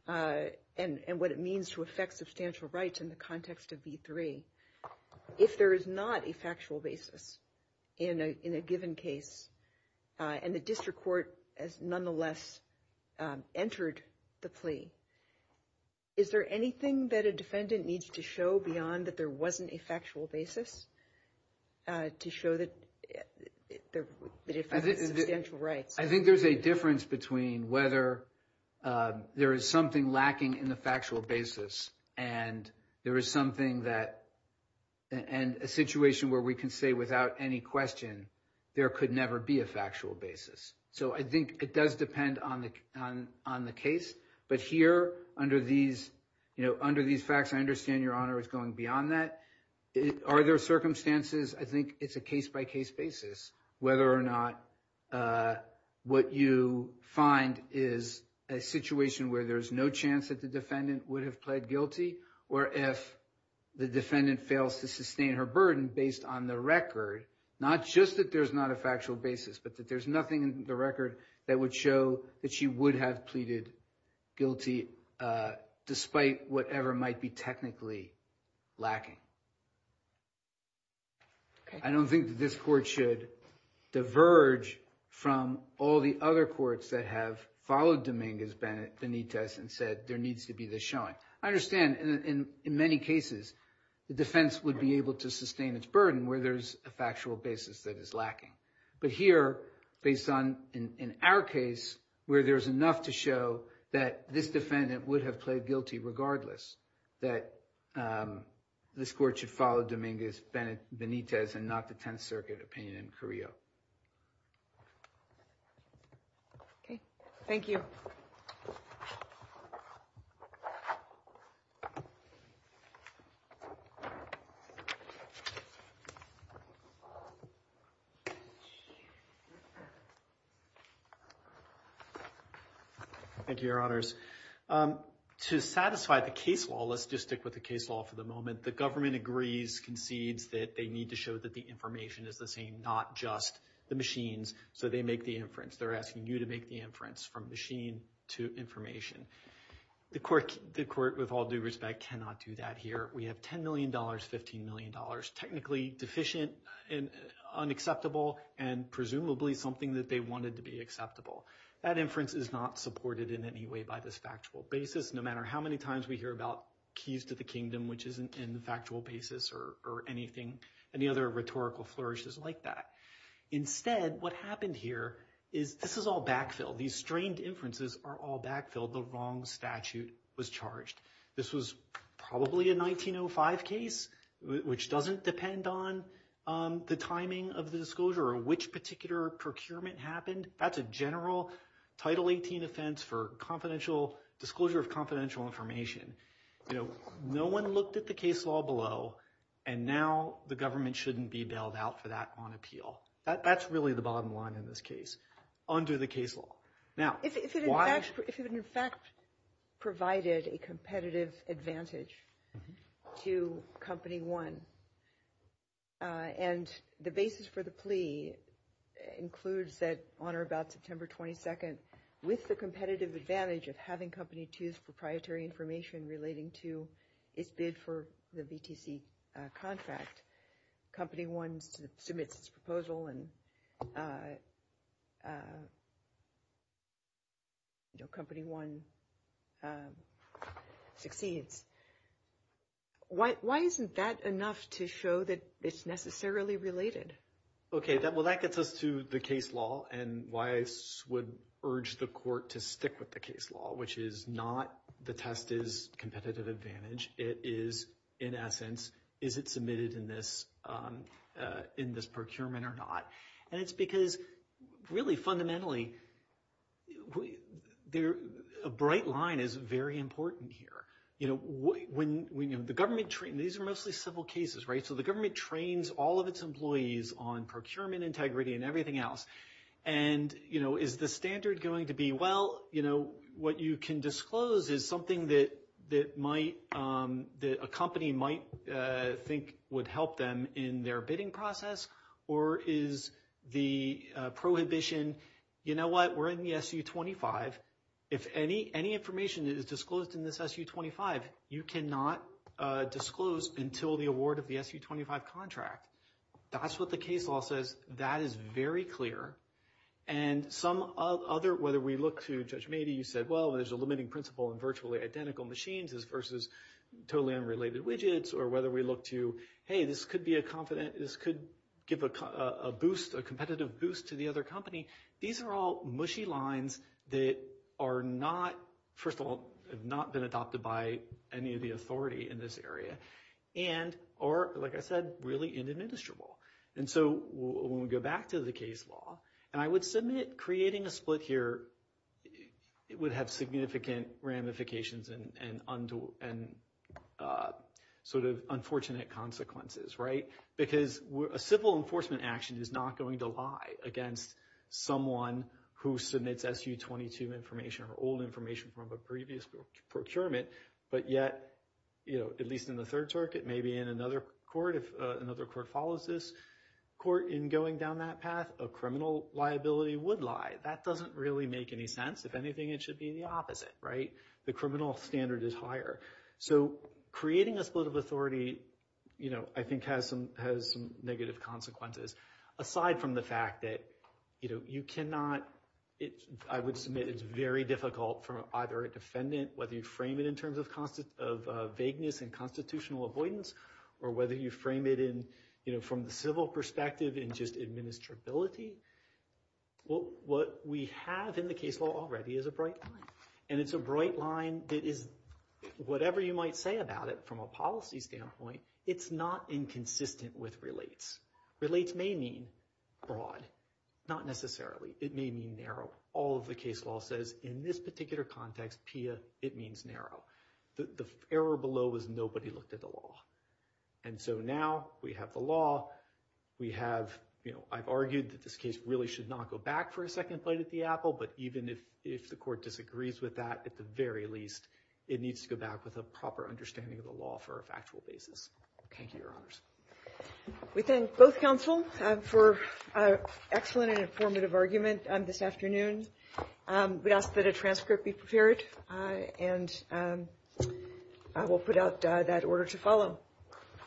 and what it means to affect substantial rights in the context of B3. If there is not a factual basis in a given case and the district court has nonetheless entered the plea, is there anything that a defendant needs to show beyond that there wasn't a factual basis to show that there is a substantial right? I think there's a difference between whether there is something lacking in the factual basis and there is something that – and a situation where we can say without any question there could never be a factual basis. So I think it does depend on the case. But here under these facts, I understand your honor is going beyond that. Are there circumstances – I think it's a case-by-case basis whether or not what you find is a situation where there's no chance that the defendant would have pled guilty or if the defendant fails to sustain her burden based on the record, not just that there's not a factual basis but that there's nothing in the record that would show that she would have pleaded guilty despite whatever might be technically lacking. I don't think that this court should diverge from all the other courts that have followed Dominguez Benitez and said there needs to be this showing. I understand in many cases the defense would be able to sustain its burden where there's a factual basis that is lacking. But here based on – in our case where there's enough to show that this defendant would have pled guilty regardless, that this court should follow Dominguez Benitez and not the Tenth Circuit opinion in Carrillo. Okay. Thank you. Thank you. Thank you, Your Honors. To satisfy the case law, let's just stick with the case law for the moment. The government agrees, concedes that they need to show that the information is the same, not just the machines. So they make the inference. They're asking you to make the inference from machine to information. The court, with all due respect, cannot do that here. We have $10 million, $15 million, technically deficient and unacceptable and presumably something that they wanted to be acceptable. That inference is not supported in any way by this factual basis, no matter how many times we hear about keys to the kingdom, which isn't in the factual basis or anything, any other rhetorical flourishes like that. Instead, what happened here is this is all backfilled. These strained inferences are all backfilled. The wrong statute was charged. This was probably a 1905 case, which doesn't depend on the timing of the disclosure or which particular procurement happened. That's a general Title 18 offense for disclosure of confidential information. No one looked at the case law below, and now the government shouldn't be bailed out for that on appeal. That's really the bottom line in this case under the case law. If it in fact provided a competitive advantage to Company 1, and the basis for the plea includes that on or about September 22, with the competitive advantage of having Company 2's proprietary information relating to its bid for the BTC contract, Company 1 submits its proposal, and Company 1 succeeds, why isn't that enough to show that it's necessarily related? Okay. Well, that gets us to the case law and why I would urge the court to stick with the case law, which is not the test is competitive advantage. It is, in essence, is it submitted in this procurement or not? And it's because really fundamentally a bright line is very important here. These are mostly civil cases, right? So the government trains all of its employees on procurement integrity and everything else. And is the standard going to be, well, what you can disclose is something that a company might think would help them in their bidding process, or is the prohibition, you know what, we're in the SU-25. If any information is disclosed in this SU-25, you cannot disclose until the award of the SU-25 contract. That's what the case law says. That is very clear. And some other, whether we look to Judge Mady, you said, well, there's a limiting principle in virtually identical machines versus totally unrelated widgets, or whether we look to, hey, this could be a confident, this could give a boost, a competitive boost to the other company. These are all mushy lines that are not, first of all, have not been adopted by any of the authority in this area. And are, like I said, really inadmissible. And so when we go back to the case law, and I would submit creating a split here would have significant ramifications and sort of unfortunate consequences, right? Because a civil enforcement action is not going to lie against someone who submits SU-22 information or old information from a previous procurement, but yet, at least in the third circuit, maybe in another court, if another court follows this court in going down that path, a criminal liability would lie. That doesn't really make any sense. If anything, it should be the opposite, right? The criminal standard is higher. So creating a split of authority, you know, I think has some negative consequences. Aside from the fact that, you know, you cannot, I would submit it's very difficult for either a defendant, whether you frame it in terms of vagueness and constitutional avoidance, or whether you frame it in, you know, from the civil perspective and just administrability, what we have in the case law already is a bright line. It is whatever you might say about it from a policy standpoint, it's not inconsistent with relates. Relates may mean broad, not necessarily. It may mean narrow. All of the case law says in this particular context, P.S., it means narrow. The error below is nobody looked at the law. And so now we have the law. We have, you know, I've argued that this case really should not go back for a second flight at the apple, but even if the court disagrees with that, at the very least, it needs to go back with a proper understanding of the law for a factual basis. Thank you, Your Honors. We thank both counsels for an excellent and informative argument this afternoon. We ask that a transcript be prepared, and I will put out that order to follow.